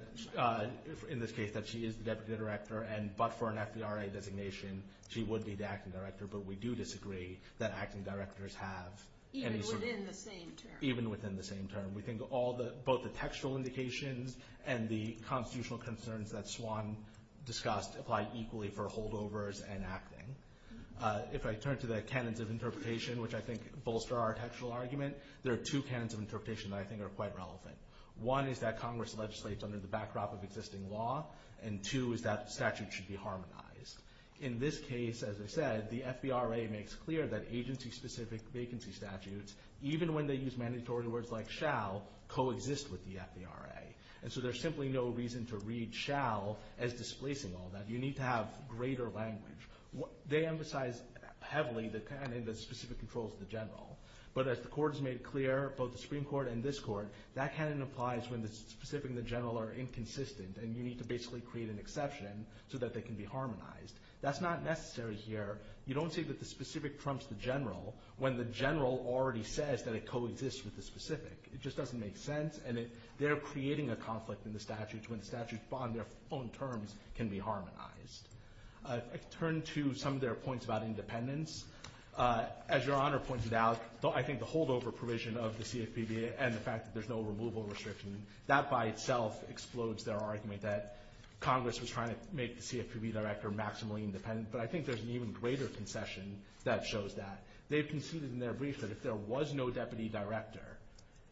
in this case, that she is the deputy director, but for an FERA designation she would be the acting director, but we do disagree that acting directors have any sort of— Even within the same term. Even within the same term. We think both the textual indications and the constitutional concerns that Swan discussed apply equally for holdovers and acting. If I turn to the canons of interpretation, which I think bolster our textual argument, there are two canons of interpretation that I think are quite relevant. One is that Congress legislates under the backdrop of existing law, and two is that the statute should be harmonized. In this case, as I said, the FBRA makes clear that agency-specific vacancy statutes, even when they use mandatory words like shall, coexist with the FBRA, and so there's simply no reason to read shall as displacing all that. You need to have greater language. They emphasize heavily the specific controls of the general, but as the Court has made clear, both the Supreme Court and this Court, that canon applies when the specific and the general are inconsistent, and you need to basically create an exception so that they can be harmonized. That's not necessary here. You don't say that the specific trumps the general when the general already says that it coexists with the specific. It just doesn't make sense, and they're creating a conflict in the statute when the statute on their own terms can be harmonized. I turn to some of their points about independence. As Your Honor pointed out, I think the holdover provision of the CFPB and the fact that there's no removal restriction, that by itself explodes their argument that Congress was trying to make the CFPB deputy director maximally independent, but I think there's an even greater concession that shows that. They've conceded in their brief that if there was no deputy director,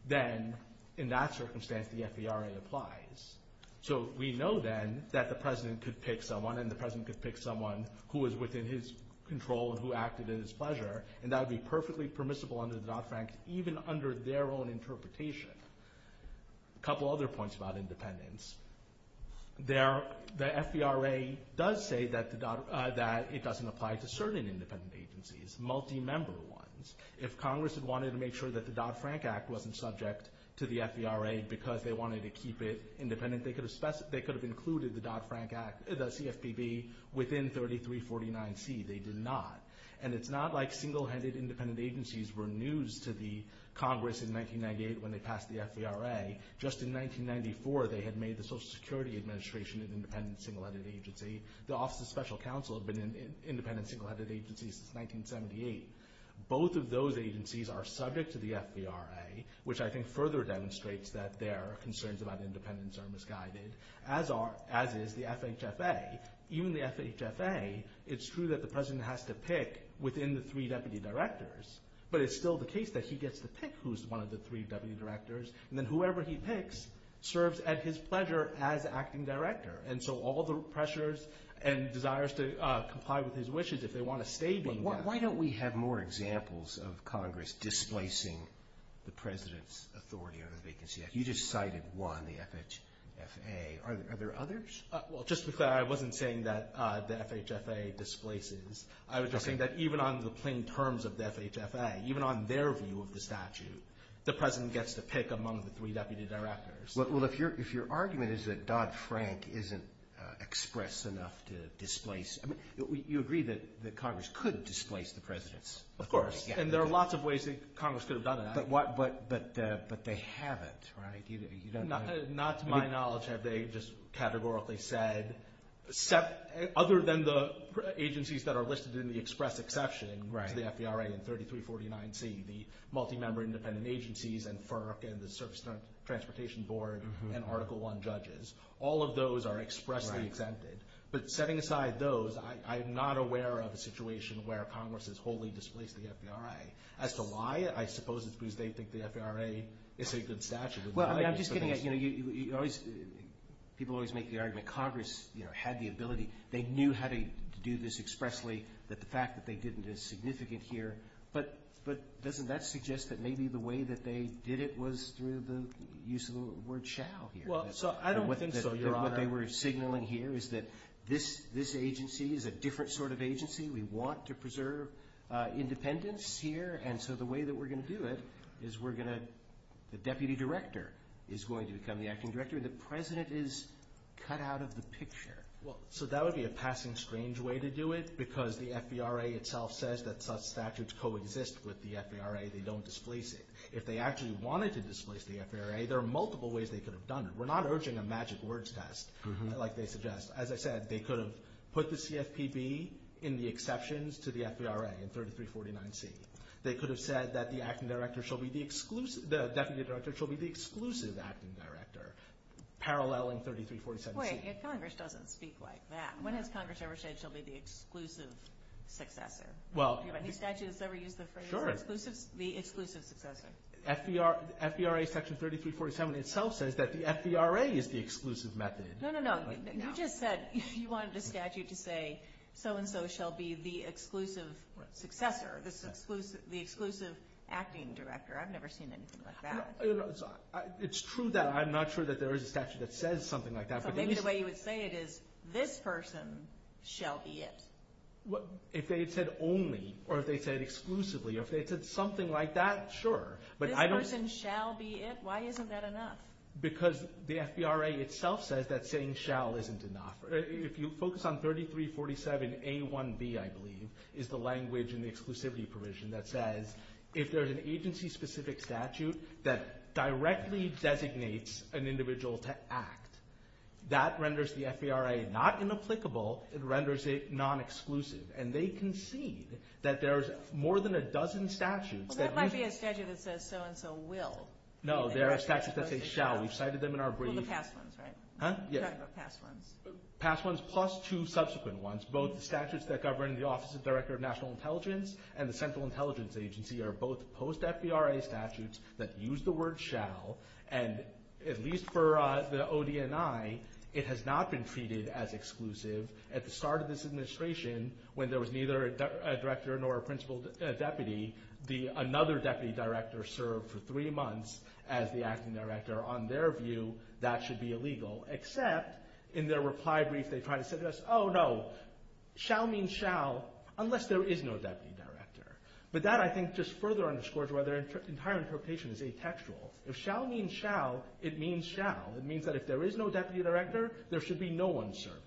then in that circumstance the FVRA applies. So we know then that the president could pick someone, and the president could pick someone who was within his control and who acted in his pleasure, and that would be perfectly permissible under the Dodd-Frank, even under their own interpretation. A couple other points about independence. The FVRA does say that it doesn't apply to certain independent agencies, multi-member ones. If Congress had wanted to make sure that the Dodd-Frank Act wasn't subject to the FVRA because they wanted to keep it independent, they could have included the CFPB within 3349C. They did not. And it's not like single-handed independent agencies were news to the Congress in 1998 when they passed the FVRA. Just in 1994 they had made the Social Security Administration an independent single-handed agency. The Office of Special Counsel had been an independent single-handed agency since 1978. Both of those agencies are subject to the FVRA, which I think further demonstrates that their concerns about independence are misguided, as is the FHFA. Even the FHFA, it's true that the president has to pick within the three deputy directors, but it's still the case that he gets to pick who's one of the three deputy directors, and then whoever he picks serves at his pleasure as acting director. And so all the pressures and desires to comply with his wishes, if they want to stay being that. Why don't we have more examples of Congress displacing the president's authority over the vacancy act? You just cited one, the FHFA. Are there others? Just to be clear, I wasn't saying that the FHFA displaces. I was just saying that even on the plain terms of the FHFA, even on their view of the statute, the president gets to pick among the three deputy directors. Well, if your argument is that Dodd-Frank isn't express enough to displace, you agree that Congress could displace the president's authority. Of course, and there are lots of ways that Congress could have done that. But they haven't, right? Not to my knowledge have they just categorically said, other than the agencies that are listed in the express exception to the FVRA in 3349C, the multi-member independent agencies and FERC and the Service Transportation Board and Article I judges. All of those are expressly exempted. But setting aside those, I'm not aware of a situation where Congress has wholly displaced the FVRA. As to why, I suppose it's because they think the FVRA is a good statute. I'm just getting at, you know, people always make the argument Congress had the ability, they knew how to do this expressly, that the fact that they didn't is significant here. But doesn't that suggest that maybe the way that they did it was through the use of the word shall here? Well, I don't think so, Your Honor. What they were signaling here is that this agency is a different sort of agency. We want to preserve independence here, and so the way that we're going to do it is we're going to, the deputy director is going to become the acting director and the president is cut out of the picture. Well, so that would be a passing strange way to do it because the FVRA itself says that such statutes coexist with the FVRA. They don't displace it. If they actually wanted to displace the FVRA, there are multiple ways they could have done it. We're not urging a magic words test like they suggest. As I said, they could have put the CFPB in the exceptions to the FVRA in 3349C. They could have said that the acting director shall be the exclusive, the deputy director shall be the exclusive acting director, parallel in 3347C. Congress doesn't speak like that. When has Congress ever said she'll be the exclusive successor? Do you have any statute that's ever used the phrase the exclusive successor? FVRA section 3347 itself says that the FVRA is the exclusive method. No, no, no. You just said you wanted a statute to say so and so shall be the exclusive successor, the exclusive acting director. I've never seen anything like that. It's true that I'm not sure that there is a statute that says something like that. Maybe the way you would say it is this person shall be it. If they had said only or if they had said exclusively or if they had said something like that, sure. This person shall be it? Why isn't that enough? Because the FVRA itself says that saying shall isn't enough. If you focus on 3347A1B, I believe, is the language in the exclusivity provision that says if there's an agency-specific statute that directly designates an individual to act, that renders the FVRA not inapplicable. It renders it nonexclusive. And they concede that there's more than a dozen statutes. Well, there might be a statute that says so and so will. No, there are statutes that say shall. We've cited them in our brief. Well, the past ones, right? Huh? You're talking about past ones. Past ones plus two subsequent ones. Both the statutes that govern the Office of the Director of National Intelligence and the Central Intelligence Agency are both post-FVRA statutes that use the word shall. And at least for the ODNI, it has not been treated as exclusive. At the start of this administration, when there was neither a director nor a principal deputy, another deputy director served for three months as the acting director. On their view, that should be illegal. Except in their reply brief, they tried to say to us, oh, no, shall means shall unless there is no deputy director. But that, I think, just further underscores why their entire interpretation is atextual. If shall means shall, it means shall. It means that if there is no deputy director, there should be no one serving.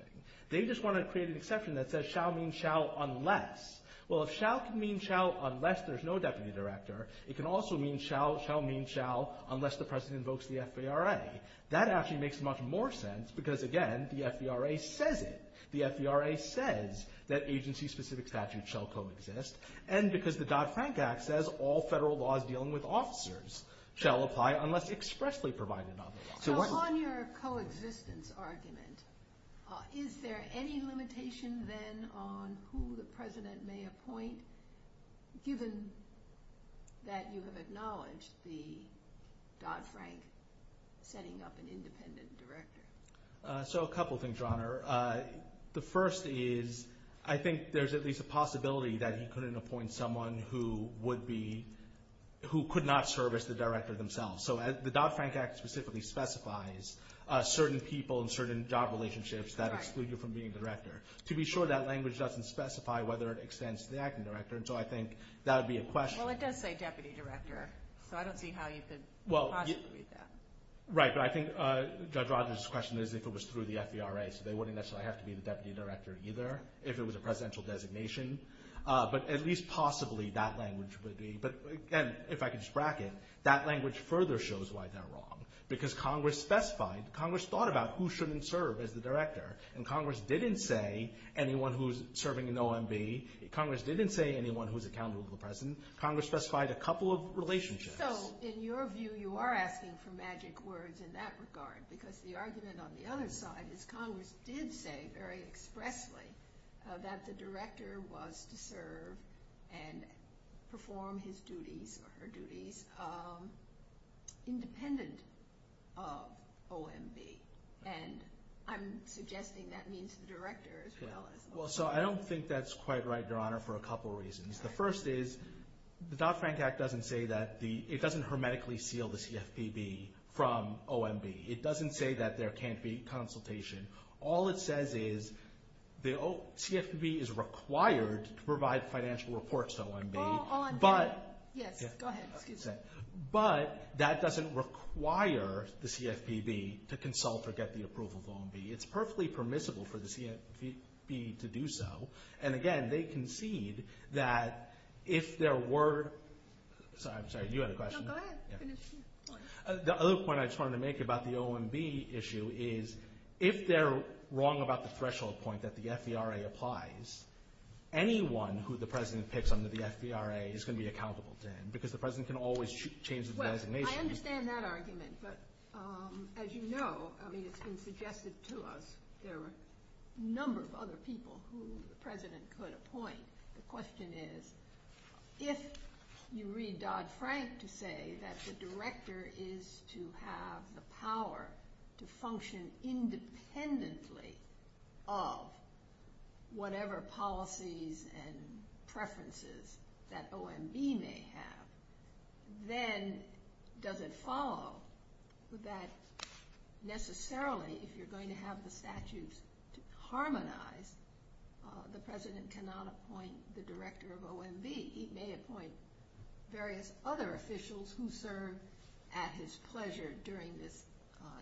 They just want to create an exception that says shall means shall unless. Well, if shall can mean shall unless there's no deputy director, it can also mean shall shall mean shall unless the president invokes the FVRA. That actually makes much more sense because, again, the FVRA says it. The FVRA says that agency-specific statutes shall coexist. And because the Dodd-Frank Act says all federal laws dealing with officers shall apply unless expressly provided on the law. So on your coexistence argument, is there any limitation then on who the president may appoint, given that you have acknowledged the Dodd-Frank setting up an independent director? So a couple things, Your Honor. The first is I think there's at least a possibility that he couldn't appoint someone who could not serve as the director themselves. So the Dodd-Frank Act specifically specifies certain people and certain job relationships that exclude you from being the director. To be sure, that language doesn't specify whether it extends to the acting director, and so I think that would be a question. Well, it does say deputy director, so I don't see how you could possibly read that. Right, but I think Judge Rogers' question is if it was through the FVRA, so they wouldn't necessarily have to be the deputy director either if it was a presidential designation. But at least possibly that language would be. But, again, if I could just bracket, that language further shows why they're wrong. Because Congress specified, Congress thought about who shouldn't serve as the director, and Congress didn't say anyone who's serving an OMB. Congress didn't say anyone who's accountable to the president. Congress specified a couple of relationships. So, in your view, you are asking for magic words in that regard because the argument on the other side is Congress did say very expressly that the director was to serve and perform his duties or her duties independent of OMB. And I'm suggesting that means the director as well as the OMB. Well, so I don't think that's quite right, Your Honor, for a couple of reasons. The first is the Dodd-Frank Act doesn't say that theóit doesn't hermetically seal the CFPB from OMB. It doesn't say that there can't be consultation. All it says is the CFPB is required to provide financial reports to OMB. All I'm gettingóyes, go ahead. But that doesn't require the CFPB to consult or get the approval of OMB. It's perfectly permissible for the CFPB to do so. And, again, they concede that if there wereósorry, I'm sorry, you had a question. No, go ahead. Finish. The other point I just wanted to make about the OMB issue is if they're wrong about the threshold point that the FVRA applies, anyone who the president picks under the FVRA is going to be accountable to him because the president can always change the designation. Well, I understand that argument, but as you know, I mean, it's been suggested to us that there are a number of other people who the president could appoint. The question is if you read Dodd-Frank to say that the director is to have the power to function independently of whatever policies and preferences that OMB may have, then does it follow that necessarily if you're going to have the statutes to harmonize, the president cannot appoint the director of OMB? He may appoint various other officials who serve at his pleasure during this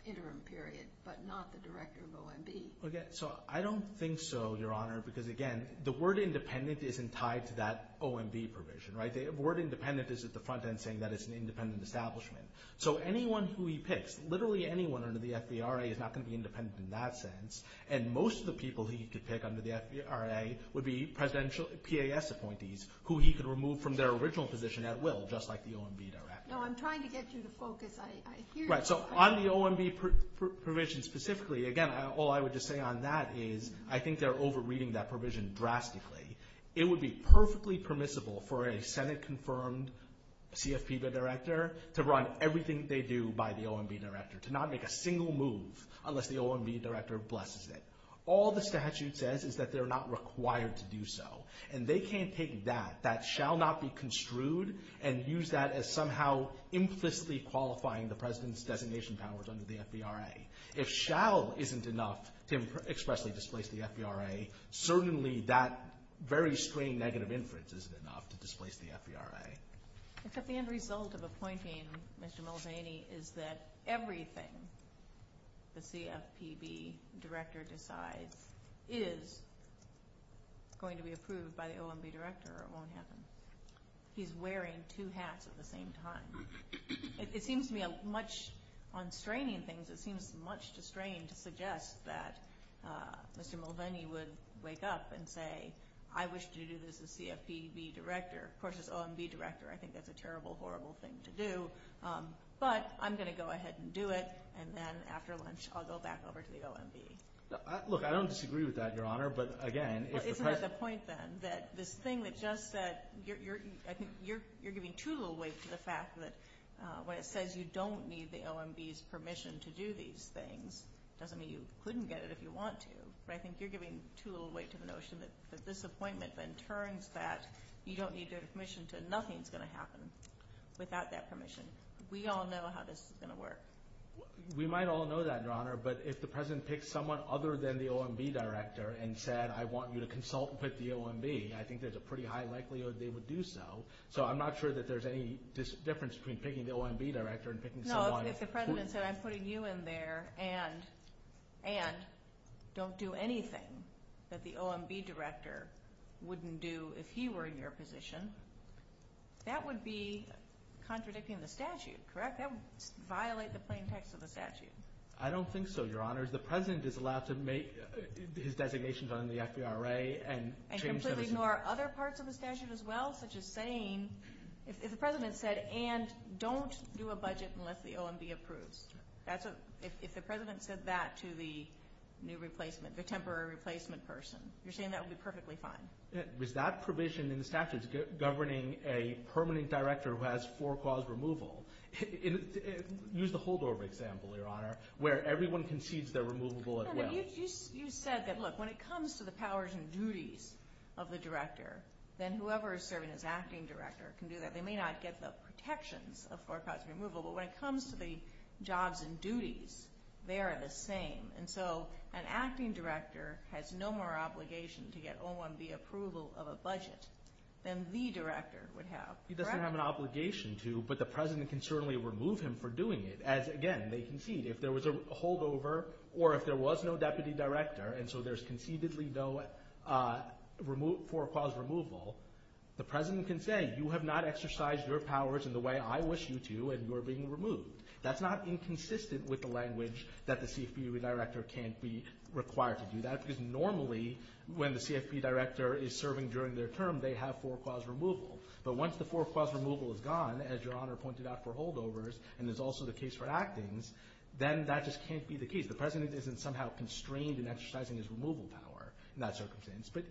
interim period but not the director of OMB. So I don't think so, Your Honor, because, again, the word independent isn't tied to that OMB provision. The word independent is at the front end saying that it's an independent establishment. So anyone who he picks, literally anyone under the FVRA is not going to be independent in that sense, and most of the people he could pick under the FVRA would be presidential PAS appointees who he could remove from their original position at will, just like the OMB director. No, I'm trying to get you to focus. I hear you. So on the OMB provision specifically, again, all I would just say on that is I think they're over-reading that provision drastically. It would be perfectly permissible for a Senate-confirmed CFPB director to run everything they do by the OMB director, to not make a single move unless the OMB director blesses it. All the statute says is that they're not required to do so, and they can't take that, that shall not be construed, and use that as somehow implicitly qualifying the president's designation powers under the FVRA. If shall isn't enough to expressly displace the FVRA, certainly that very string negative inference isn't enough to displace the FVRA. Except the end result of appointing Mr. Mulvaney is that everything the CFPB director decides is going to be approved by the OMB director or won't happen. He's wearing two hats at the same time. It seems to me much on straining things, it seems much to strain to suggest that Mr. Mulvaney would wake up and say, I wish to do this as CFPB director versus OMB director. I think that's a terrible, horrible thing to do, but I'm going to go ahead and do it, and then after lunch I'll go back over to the OMB. Look, I don't disagree with that, Your Honor, but again if the president I think you're giving too little weight to the fact that when it says you don't need the OMB's permission to do these things, it doesn't mean you couldn't get it if you want to, but I think you're giving too little weight to the notion that this appointment then turns that you don't need their permission to nothing's going to happen without that permission. We all know how this is going to work. We might all know that, Your Honor, but if the president picks someone other than the OMB director and said I want you to consult with the OMB, I think there's a pretty high likelihood they would do so. So I'm not sure that there's any difference between picking the OMB director and picking someone who No, if the president said I'm putting you in there and don't do anything that the OMB director wouldn't do if he were in your position, that would be contradicting the statute, correct? That would violate the plain text of the statute. I don't think so, Your Honor. The president is allowed to make his designations on the FVRA. And completely ignore other parts of the statute as well, such as saying if the president said, and don't do a budget unless the OMB approves. If the president said that to the new replacement, the temporary replacement person, you're saying that would be perfectly fine. With that provision in the statute governing a permanent director who has four clause removal, use the Holdover example, Your Honor, where everyone concedes they're removable as well. You said that, look, when it comes to the powers and duties of the director, then whoever is serving as acting director can do that. They may not get the protections of four clause removal, but when it comes to the jobs and duties, they are the same. And so an acting director has no more obligation to get OMB approval of a budget than the director would have. He doesn't have an obligation to, but the president can certainly remove him for doing it, as, again, they concede. If there was a holdover, or if there was no deputy director, and so there's concededly no four clause removal, the president can say, you have not exercised your powers in the way I wish you to, and you're being removed. That's not inconsistent with the language that the CFPB director can't be required to do that, because normally when the CFPB director is serving during their term, they have four clause removal. But once the four clause removal is gone, as Your Honor pointed out for holdovers, and is also the case for actings, then that just can't be the case. The president isn't somehow constrained in exercising his removal power in that circumstance. But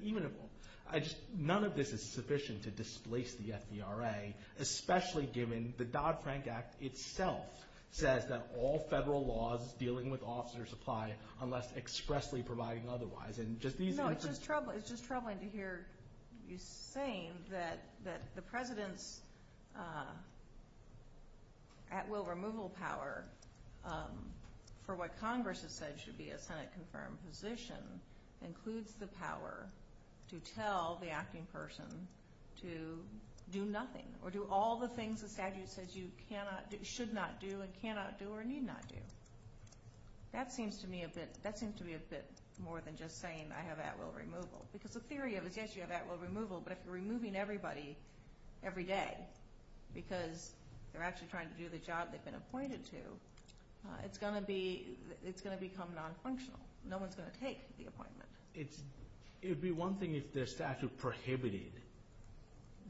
none of this is sufficient to displace the FVRA, especially given the Dodd-Frank Act itself says that all federal laws dealing with officers apply unless expressly providing otherwise. No, it's just troubling to hear you saying that the president's at-will removal power for what Congress has said should be a Senate-confirmed position includes the power to tell the acting person to do nothing, or do all the things the statute says you should not do and cannot do or need not do. That seems to me a bit more than just saying I have at-will removal. Because the theory of it is yes, you have at-will removal, but if you're removing everybody every day because they're actually trying to do the job they've been appointed to, it's going to become non-functional. No one's going to take the appointment. It would be one thing if the statute prohibited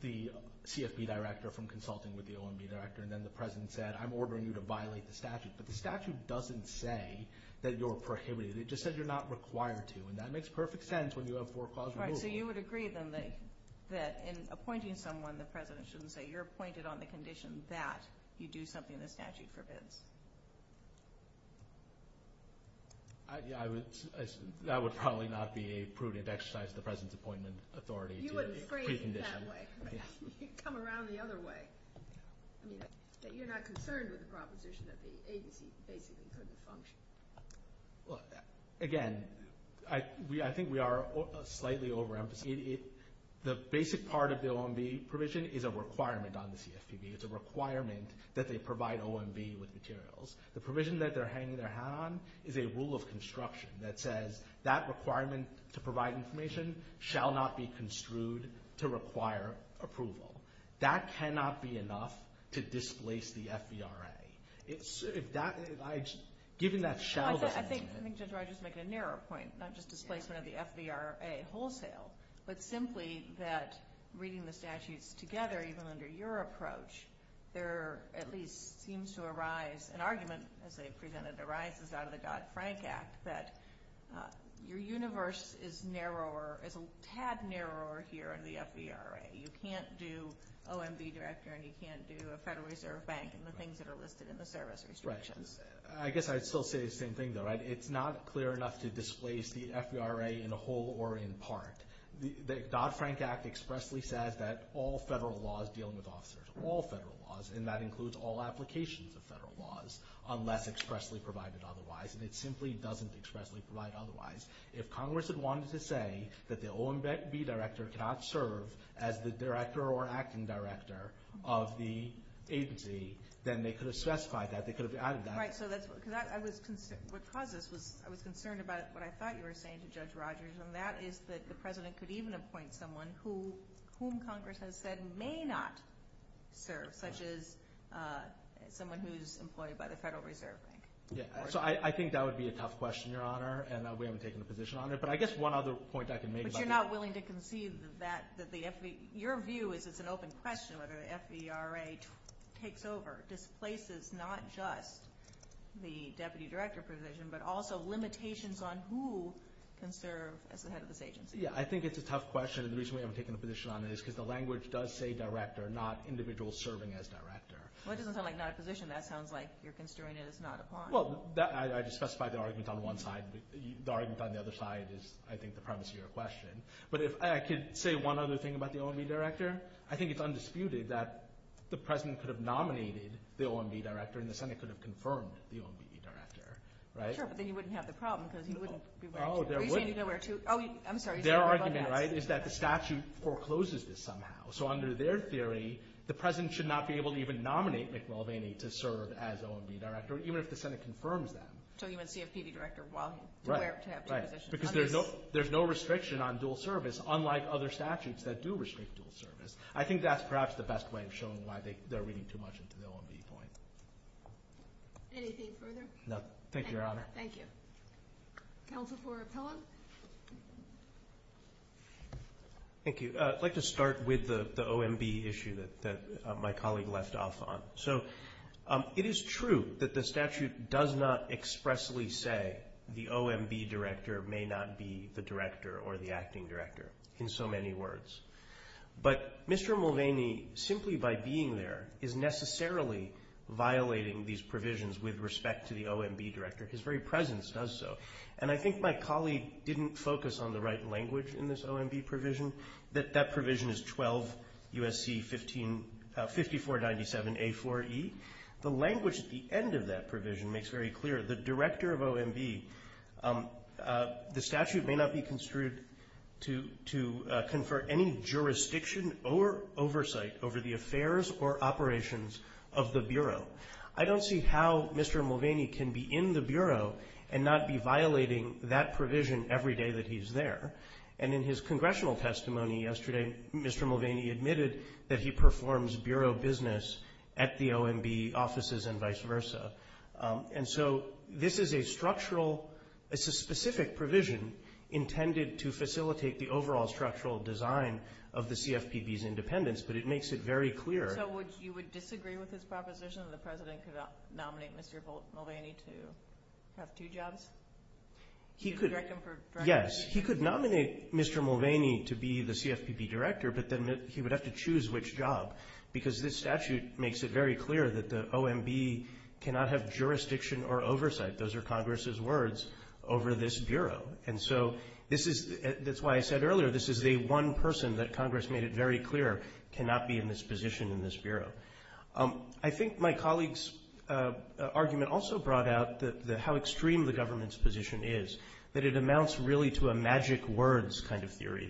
the CFPB director from consulting with the OMB director, but the statute doesn't say that you're prohibited. It just says you're not required to, and that makes perfect sense when you have for-clause removal. All right, so you would agree, then, that in appointing someone, the president shouldn't say you're appointed on the condition that you do something the statute forbids. That would probably not be a prudent exercise of the president's appointment authority. You wouldn't phrase it that way. You'd come around the other way. You're not concerned with the proposition that the agency basically couldn't function. Again, I think we are slightly over-emphasizing. The basic part of the OMB provision is a requirement on the CFPB. It's a requirement that they provide OMB with materials. The provision that they're hanging their hat on is a rule of construction that says that requirement to provide information shall not be construed to require approval. That cannot be enough to displace the FVRA. Given that shall doesn't mean it. I think Judge Rogers makes a narrower point, not just displacement of the FVRA wholesale, but simply that reading the statutes together, even under your approach, there at least seems to arise an argument, as they've presented, arises out of the Dodd-Frank Act, that your universe is narrower, is a tad narrower here in the FVRA. You can't do OMB director and you can't do a Federal Reserve Bank and the things that are listed in the service restrictions. I guess I'd still say the same thing, though. It's not clear enough to displace the FVRA in whole or in part. The Dodd-Frank Act expressly says that all federal law is dealing with officers, all federal laws, and that includes all applications of federal laws, unless expressly provided otherwise, and it simply doesn't expressly provide otherwise. If Congress had wanted to say that the OMB director cannot serve as the director or acting director of the agency, then they could have specified that. They could have added that. Right. What caused this was I was concerned about what I thought you were saying to Judge Rogers, and that is that the President could even appoint someone whom Congress has said may not serve, such as someone who's employed by the Federal Reserve Bank. I think that would be a tough question, Your Honor, and we haven't taken a position on it. But I guess one other point I can make about that. But you're not willing to concede that your view is it's an open question whether the FVRA takes over, displaces not just the deputy director position, but also limitations on who can serve as the head of this agency. Yeah, I think it's a tough question, and the reason we haven't taken a position on it is because the language does say director, not individual serving as director. Well, it doesn't sound like not a position. That sounds like you're considering it as not a point. Well, I just specified the argument on one side. The argument on the other side is, I think, the premise of your question. But if I could say one other thing about the OMB director, I think it's undisputed that the President could have nominated the OMB director and the Senate could have confirmed the OMB director, right? Sure, but then you wouldn't have the problem because he wouldn't be elected. Oh, there wouldn't. Oh, I'm sorry. Their argument, right, is that the statute forecloses this somehow. So under their theory, the President should not be able to even nominate Mick Mulvaney to serve as OMB director, even if the Senate confirms that. So even CFPB director while he's aware to have the position. Because there's no restriction on dual service, unlike other statutes that do restrict dual service. I think that's perhaps the best way of showing why they're reading too much into the OMB point. Anything further? No. Thank you, Your Honor. Thank you. Counsel for Appellant? Thank you. I'd like to start with the OMB issue that my colleague left off on. So it is true that the statute does not expressly say the OMB director may not be the director or the acting director in so many words. But Mr. Mulvaney, simply by being there, is necessarily violating these provisions with respect to the OMB director. His very presence does so. And I think my colleague didn't focus on the right language in this OMB provision, that that provision is 12 U.S.C. 5497A4E. The language at the end of that provision makes very clear. The director of OMB, the statute may not be construed to confer any jurisdiction or oversight over the affairs or operations of the Bureau. I don't see how Mr. Mulvaney can be in the Bureau and not be violating that provision every day that he's there. And in his congressional testimony yesterday, Mr. Mulvaney admitted that he performs Bureau business at the OMB offices and vice versa. And so this is a structural, it's a specific provision intended to facilitate the overall structural design of the CFPB's independence. But it makes it very clear. So you would disagree with his proposition that the President could nominate Mr. Mulvaney to have two jobs? He could, yes. He could nominate Mr. Mulvaney to be the CFPB director, but then he would have to choose which job because this statute makes it very clear that the OMB cannot have jurisdiction or oversight. Those are Congress's words over this Bureau. And so this is, that's why I said earlier, this is the one person that Congress made it very clear cannot be in this position in this Bureau. I think my colleague's argument also brought out how extreme the government's position is, that it amounts really to a magic words kind of theory,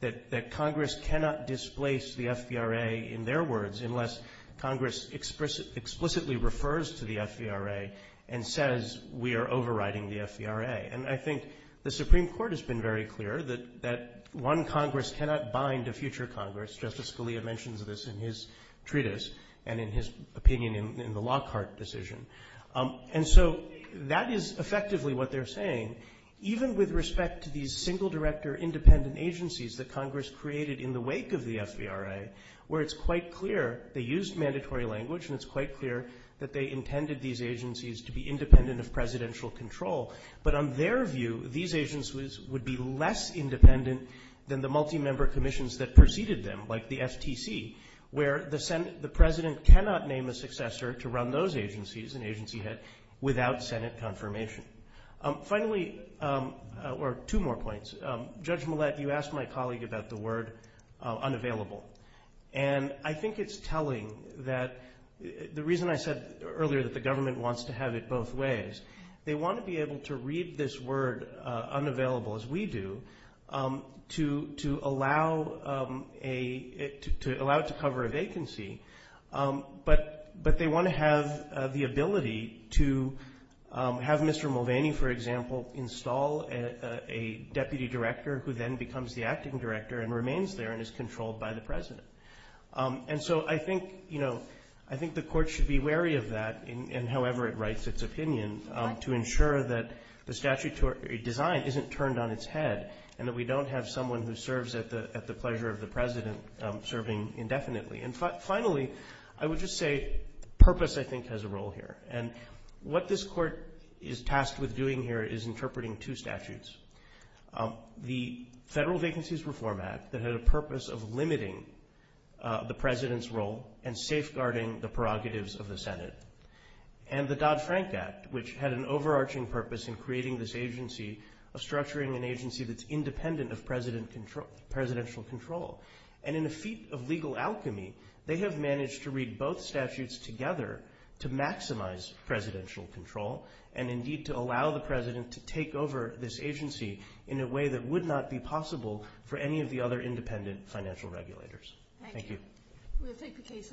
that Congress cannot displace the FVRA in their words unless Congress explicitly refers to the FVRA and says we are overriding the FVRA. And I think the Supreme Court has been very clear that one Congress cannot bind a future Congress. Justice Scalia mentions this in his treatise and in his opinion in the Lockhart decision. And so that is effectively what they're saying, even with respect to these single director independent agencies that Congress created in the wake of the FVRA, where it's quite clear they used mandatory language and it's quite clear that they intended these agencies to be independent of presidential control. But on their view, these agencies would be less independent than the multi-member commissions that preceded them, like the FTC, where the president cannot name a successor to run those agencies, an agency head, without Senate confirmation. Finally, or two more points, Judge Millett, you asked my colleague about the word unavailable. And I think it's telling that the reason I said earlier that the government wants to have it both ways, they want to be able to read this word unavailable, as we do, to allow it to cover a vacancy, but they want to have the ability to have Mr. Mulvaney, for example, install a deputy director who then becomes the acting director and remains there and is controlled by the president. And so I think, you know, I think the Court should be wary of that, and however it writes its opinion, to ensure that the statutory design isn't turned on its head and that we don't have someone who serves at the pleasure of the president serving indefinitely. And finally, I would just say purpose, I think, has a role here. And what this Court is tasked with doing here is interpreting two statutes. The Federal Vacancies Reform Act, that had a purpose of limiting the president's role and safeguarding the prerogatives of the Senate. And the Dodd-Frank Act, which had an overarching purpose in creating this agency, of structuring an agency that's independent of presidential control. And in a feat of legal alchemy, they have managed to read both statutes together to maximize presidential control and indeed to allow the president to take over this agency in a way that would not be possible for any of the other independent financial regulators. Thank you. We'll take the case under advisement.